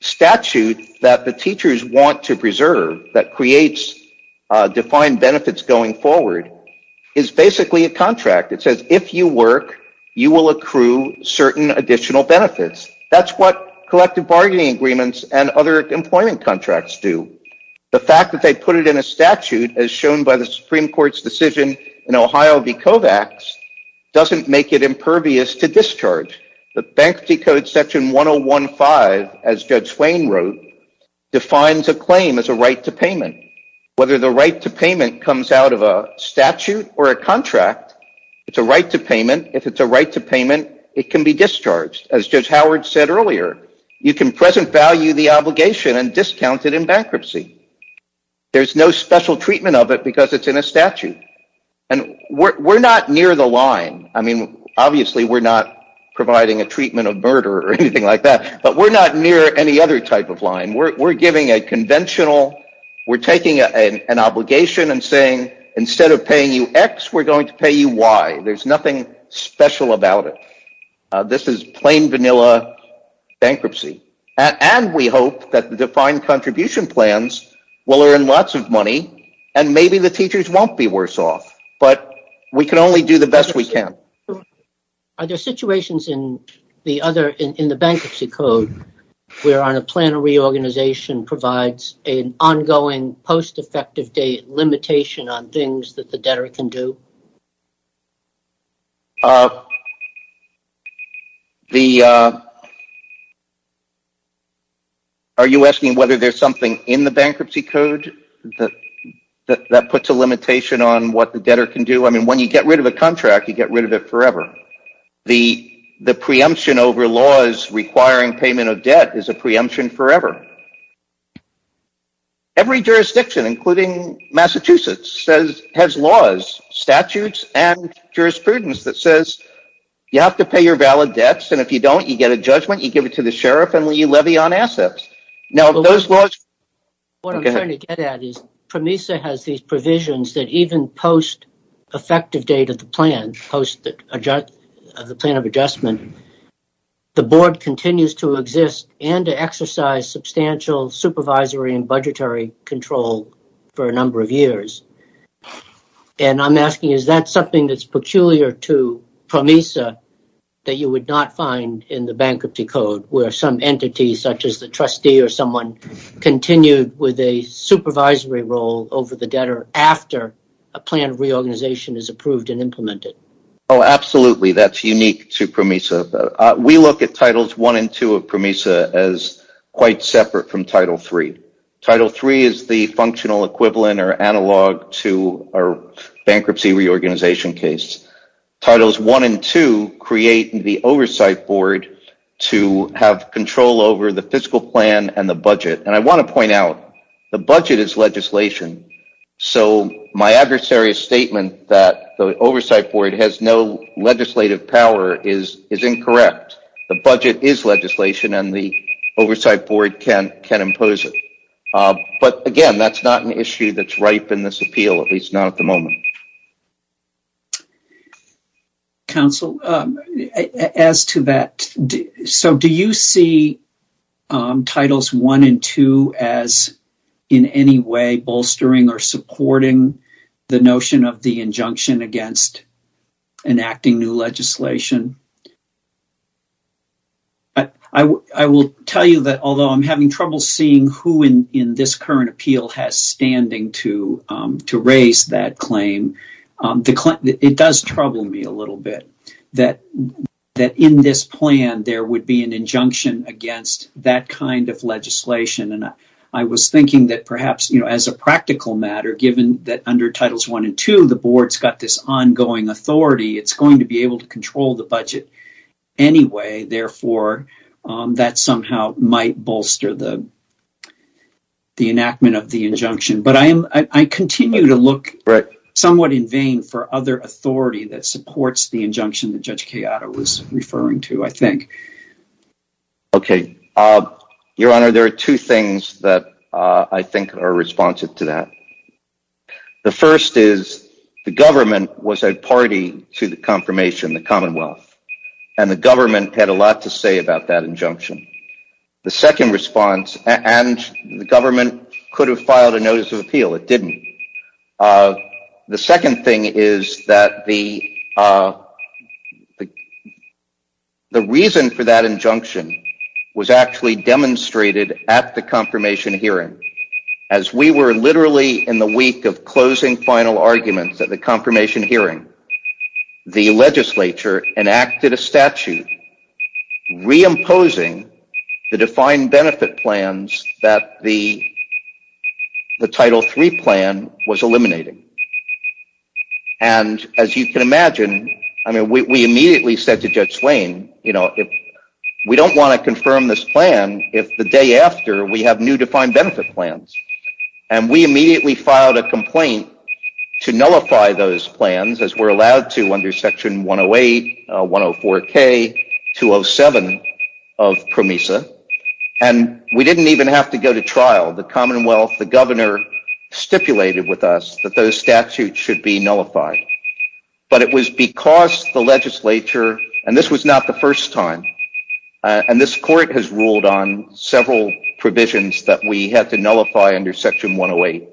statute that the teachers want to preserve that creates defined benefits going forward is basically a contract that says, if you work, you will accrue certain additional benefits. That's what collective bargaining agreements and other employment contracts do. The fact that they put it in a statute as shown by the Supreme Court's decision in Ohio v. Kovacs doesn't make it impervious to discharge. The Bankruptcy Code Section 1015, as Judge Wayne wrote, defines a claim as a right to payment. Whether the right to payment comes out of a statute or a contract, it's a right to payment. If it's a right to payment, it can be discharged. As Judge Howard said earlier, you can present value the obligation and discount it in bankruptcy. There's no special treatment of it because it's in a statute. And we're not near the line. Obviously, we're not providing a treatment of murder or anything like that. But we're not near any other type of line. We're giving a conventional... We're taking an obligation and saying, instead of paying you X, we're going to pay you Y. There's nothing special about it. This is plain, vanilla bankruptcy. And we hope that the defined contribution plans will earn lots of money and maybe the teachers won't be worse off. But we can only do the best we can. Are there situations in the bankruptcy code where a plan of reorganization provides an ongoing post-effective date limitation on things that the debtor can do? Are you asking whether there's something in the bankruptcy code that puts a limitation on what the debtor can do? I mean, when you get rid of a contract, you get rid of it forever. The preemption over laws requiring payment of debt is a preemption forever. Every jurisdiction, including Massachusetts, has laws, statutes, and jurisprudence that says you have to pay your valid debts. And if you don't, you get a judgment. You give it to the sheriff, and you levy on assets. What I'm trying to get at is PROMESA has these provisions that even post-effective date of the plan, post the plan of adjustment, the board continues to exist and to exercise substantial supervisory and budgetary control for a number of years. And I'm asking, is that something that's peculiar to PROMESA that you would not find in the bankruptcy code, where some entity, such as the trustee or someone, continued with a supervisory role over the debtor after a plan of reorganization is approved and implemented? Oh, absolutely. That's unique to PROMESA. We look at Titles I and II of PROMESA as quite separate from Title III. Title III is the functional equivalent or analog to our bankruptcy reorganization case. Titles I and II create the oversight board to have control over the fiscal plan and the budget. And I want to point out, the budget is legislation. So my adversary's statement that the oversight board has no legislative power is incorrect. The budget is legislation, and the oversight board can impose it. But again, that's not an issue that's ripe in this appeal, at least not at the moment. Counsel, as to that, so do you see Titles I and II as in any way bolstering or supporting the notion of the injunction against enacting new legislation? I will tell you that, although I'm having trouble seeing who in this current appeal has standing to raise that claim, it does trouble me a little bit that in this plan, there would be an injunction against that kind of legislation. And I was thinking that perhaps, as a practical matter, given that under Titles I and II, the board's got this ongoing authority, it's going to be able to control the budget anyway. Therefore, that somehow might bolster the enactment of the injunction. But I continue to look somewhat in vain for other authority that supports the injunction that Judge Chiara was referring to, I think. Okay. Your Honor, there are two things that I think are responsive to that. The first is, the government was a party to the confirmation, the Commonwealth. And the government had a lot to say about that injunction. The second response, and the government could have filed a notice of appeal. It didn't. The second thing is that the reason for that injunction was actually demonstrated at the confirmation hearing. As we were literally in the week of closing final arguments at the confirmation hearing, the legislature enacted a statute reimposing the defined benefit plans that the Title III plan was eliminating. And as you can imagine, we immediately said to Judge Swain, we don't want to confirm this plan if the day after we have new defined benefit plans. And we immediately filed a complaint to nullify those plans, as we're allowed to under Section 108, 104K, 207 of PROMESA. And we didn't even have to go to trial. The Commonwealth, the governor stipulated with us that those statutes should be nullified. But it was because the legislature, and this was not the first time, and this court has ruled on several provisions that we had to nullify under Section 108.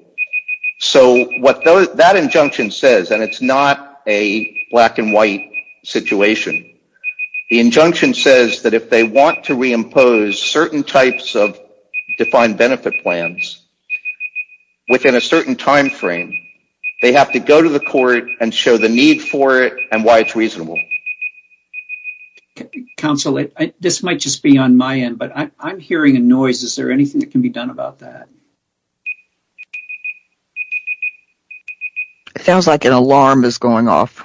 So what that injunction says, and it's not a black and white situation, the injunction says that if they want to reimpose certain types of defined benefit plans within a certain time frame, they have to go to the court and show the need for it and why it's reasonable. Counsel, this might just be on my end, but I'm hearing a noise. Is there anything that can be done about that? It sounds like an alarm is going off.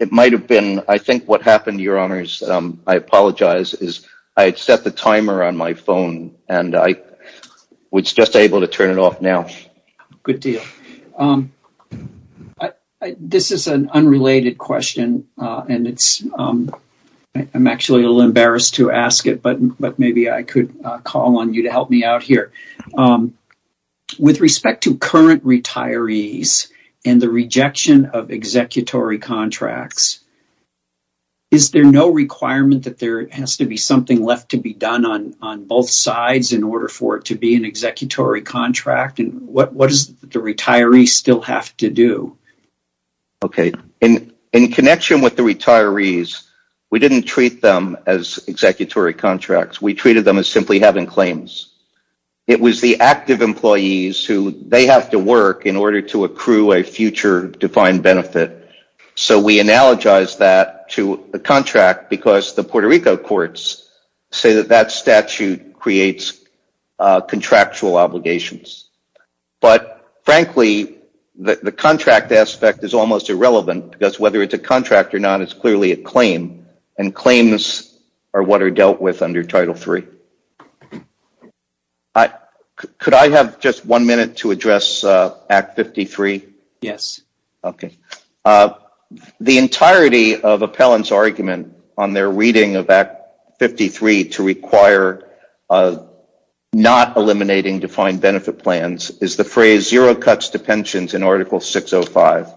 It might have been. I think what happened, Your Honors, I apologize, is I had set the timer on my phone and I was just able to turn it off now. Good deal. This is an unrelated question and I'm actually a little embarrassed to ask it, but maybe I could call on you to help me out here. With respect to current retirees, and the rejection of executory contracts, is there no requirement that there has to be something left to be done on both sides in order for it to be an executory contract? What does the retiree still have to do? Okay. In connection with the retirees, we didn't treat them as executory contracts. We treated them as simply having claims. It was the active employees who have to work in order to accrue a future defined benefit. So we analogize that to a contract because the Puerto Rico courts say that that statute creates contractual obligations. But frankly, the contract aspect is almost irrelevant because whether it's a contract or not is clearly a claim. And claims are what are dealt with under Title III. Could I have just one minute to address Act 53? Yes. The entirety of appellants' argument on their reading of Act 53 to require not eliminating defined benefit plans is the phrase zero cuts to pensions in Article 605.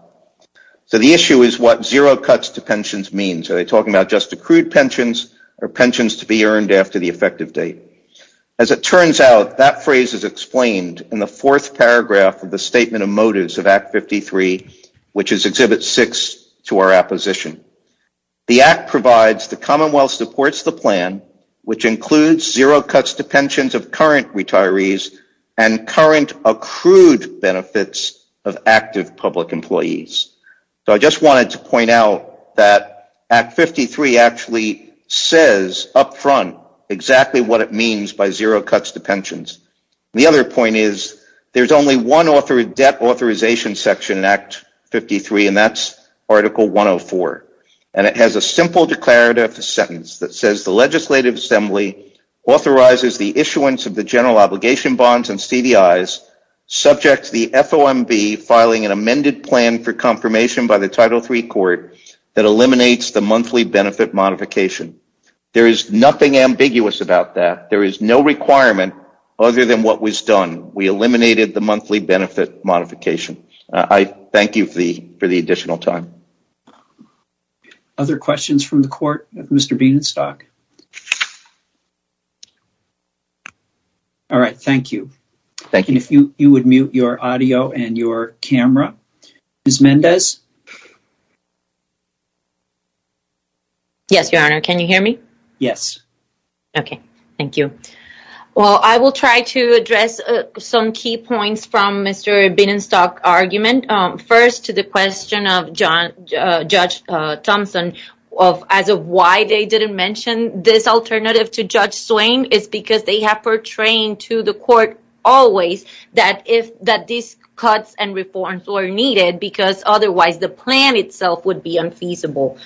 So the issue is what zero cuts to pensions means. Are they talking about just accrued pensions or pensions to be earned after the effective date? As it turns out, that phrase is explained in the fourth paragraph of the Statement of Motives of Act 53, which is Exhibit 6 to our apposition. The Act provides the Commonwealth supports the plan, which includes zero cuts to pensions of current retirees and current accrued benefits of active public employees. So I just wanted to point out that Act 53 actually says up front exactly what it means by zero cuts to pensions. The other point is there's only one debt authorization section in Act 53, and that's Article 104. And it has a simple declarative sentence that says the Legislative Assembly authorizes the issuance of the general obligation bonds and CDIs subject to the FOMB filing an amended plan for confirmation by the Title III Court that eliminates the monthly benefit modification. There is nothing ambiguous about that. There is no requirement other than what was done. We eliminated the monthly benefit modification. I thank you for the additional time. Other questions from the Court with Mr. Beanstalk? All right. Thank you. Thank you. If you would mute your audio and your camera. Ms. Mendez? Yes, Your Honor. Can you hear me? Yes. Okay. Thank you. Well, I will try to address some key points from Mr. Beanstalk's argument. First, to the question of Judge Thompson as to why they didn't mention this alternative to Judge Swain is because they have portrayed to the Court always that these cuts and reforms were needed because otherwise the plan itself would be unfeasible.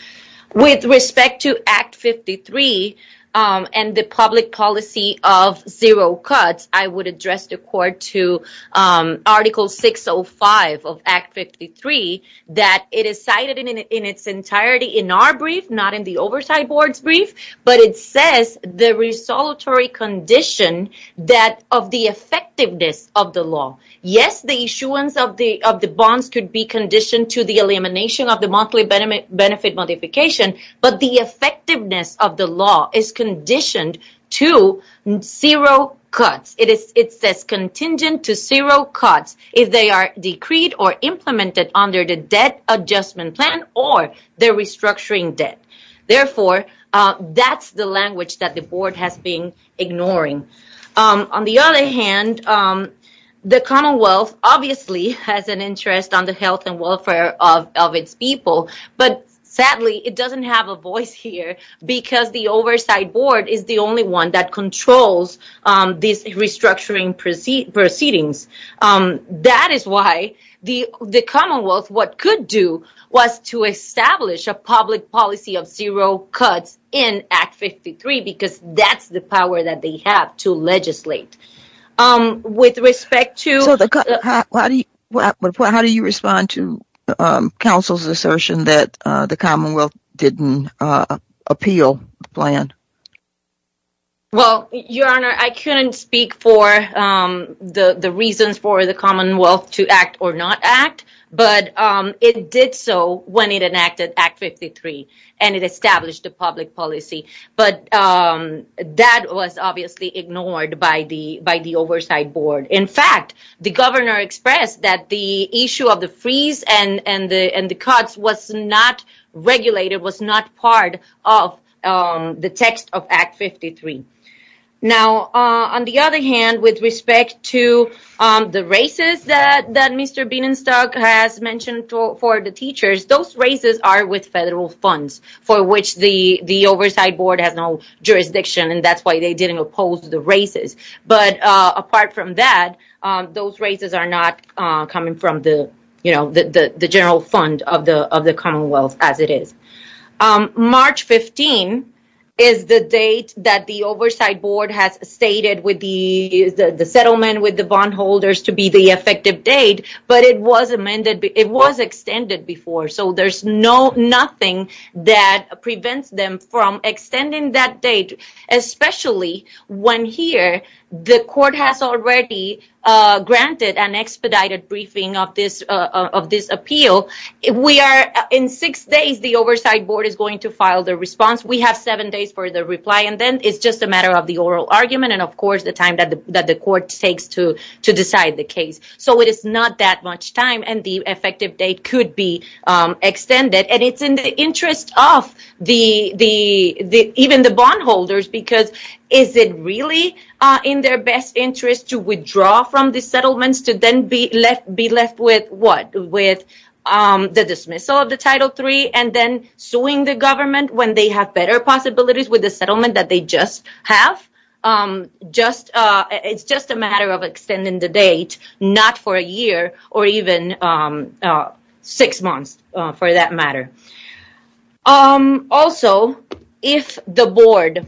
With respect to Act 53 and the public policy of zero cuts, I would address the Court to Article 605 of Act 53 that it is cited in its entirety in our brief, not in the Oversight Board's brief, but it says the resultatory condition of the effectiveness of the law. Yes, the issuance of the bonds could be conditioned to the elimination of the monthly benefit modification, but the effectiveness of the law is conditioned to zero cuts. It says contingent to zero cuts if they are decreed or implemented under the Debt Adjustment Plan or the Restructuring Debt. Therefore, that's the language that the Board has been ignoring. On the other hand, the Commonwealth obviously has an interest on the health and welfare of its people, but sadly, it doesn't have a voice here because the Oversight Board is the only one that controls these restructuring proceedings. That is why the Commonwealth what could do was to establish a public policy of zero cuts in Act 53 because that's the power that they have to legislate. How do you respond to counsel's assertion that the Commonwealth didn't appeal the plan? Well, Your Honor, I couldn't speak for the reasons for the Commonwealth to act or not act, but it did so when it enacted Act 53 and it established a public policy, but that was obviously ignored by the Oversight Board. In fact, the Governor expressed that the issue of the freeze and the cuts was not regulated, was not part of the text of Act 53. On the other hand, with respect to the races that Mr. Bienenstock has mentioned for the teachers, those races are with federal funds for which the Oversight Board has no jurisdiction and that's why they didn't oppose the races. Apart from that, those races are not coming from the general fund of the Commonwealth as it is. March 15 is the date that the Oversight Board has stated with the settlement with the bondholders to be the effective date, but it was extended before, so there's nothing that prevents them from extending that date, especially when here the court has already granted an expedited briefing of this appeal. In six days, the Oversight Board is going to file the response. We have seven days for the reply and then it's just a matter of the oral argument and, of course, the time that the court takes to decide the case. It is not that much time and the effective date could be extended. It's in the interest of even the bondholders because is it really in their best interest to withdraw from the settlement to then be left with what? The dismissal of the Title III and then suing the government when they have better possibilities with the settlement that they just have. It's just a matter of extending the date not for a year or even six months for that matter. Also, if the board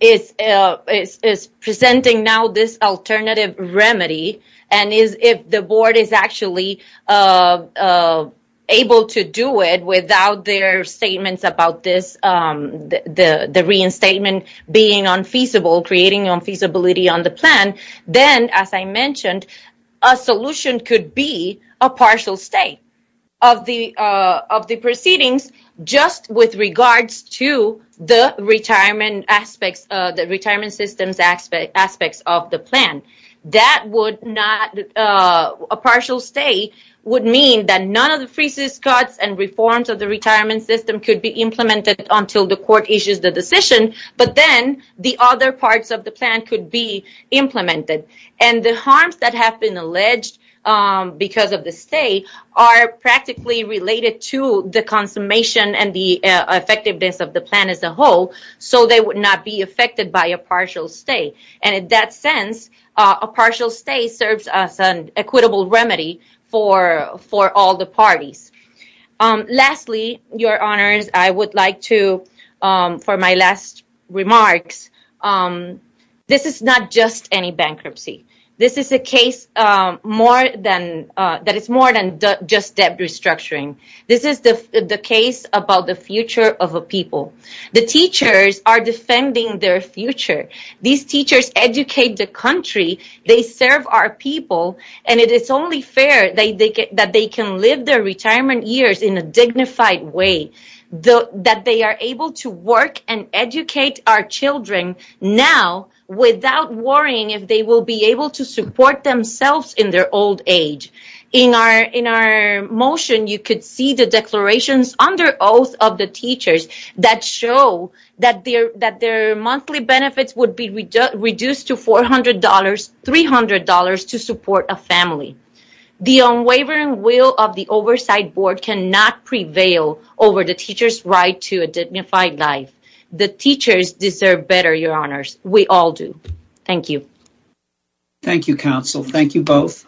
is presenting now this alternative remedy and if the board is actually able to do it without their statements about this reinstatement being unfeasible, creating unfeasibility on the plan, then, as I mentioned, a solution could be a partial stay of the proceedings just with regards to the retirement system aspects of the plan. That would not, a partial stay would mean that none of the freezes, cuts and reforms of the retirement system could be implemented until the court issues the decision but then the other parts of the plan could be implemented and the harms that have been alleged because of the stay are practically related to the consummation and the effectiveness of the plan as a whole so they would not be affected by a partial stay. And in that sense, a partial stay serves as an equitable remedy for all the parties. Lastly, Your Honors, I would like to for my last remarks, this is not just any bankruptcy. This is a case that is more than just debt restructuring. This is the case about the future of a people. The teachers are defending their future. These teachers educate the country. They serve our people and it is only fair that they can live their retirement years in a dignified way, that they are able to work and educate our children now without worrying if they will be able to support themselves in their old age. In our motion, you could see the declarations under oath of the teachers that show that their monthly benefits would be reduced to $400, $300 to support a family. The unwavering will of the oversight board cannot prevail over the teacher's right to a dignified life. The teachers deserve better, Your Honors. We all do. Thank you. Thank you, counsel. Thank you both.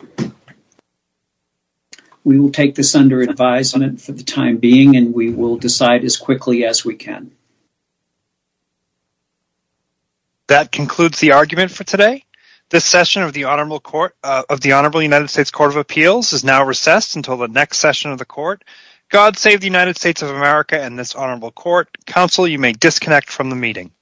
We will take this under advisement for the time being and we will decide as quickly as we can. That concludes the argument for today. This session of the Honorable United States Court of Appeals is now recessed until the next session of the court. God save the United States of America and this Honorable Court. Counsel, you may disconnect from the meeting. Thank you.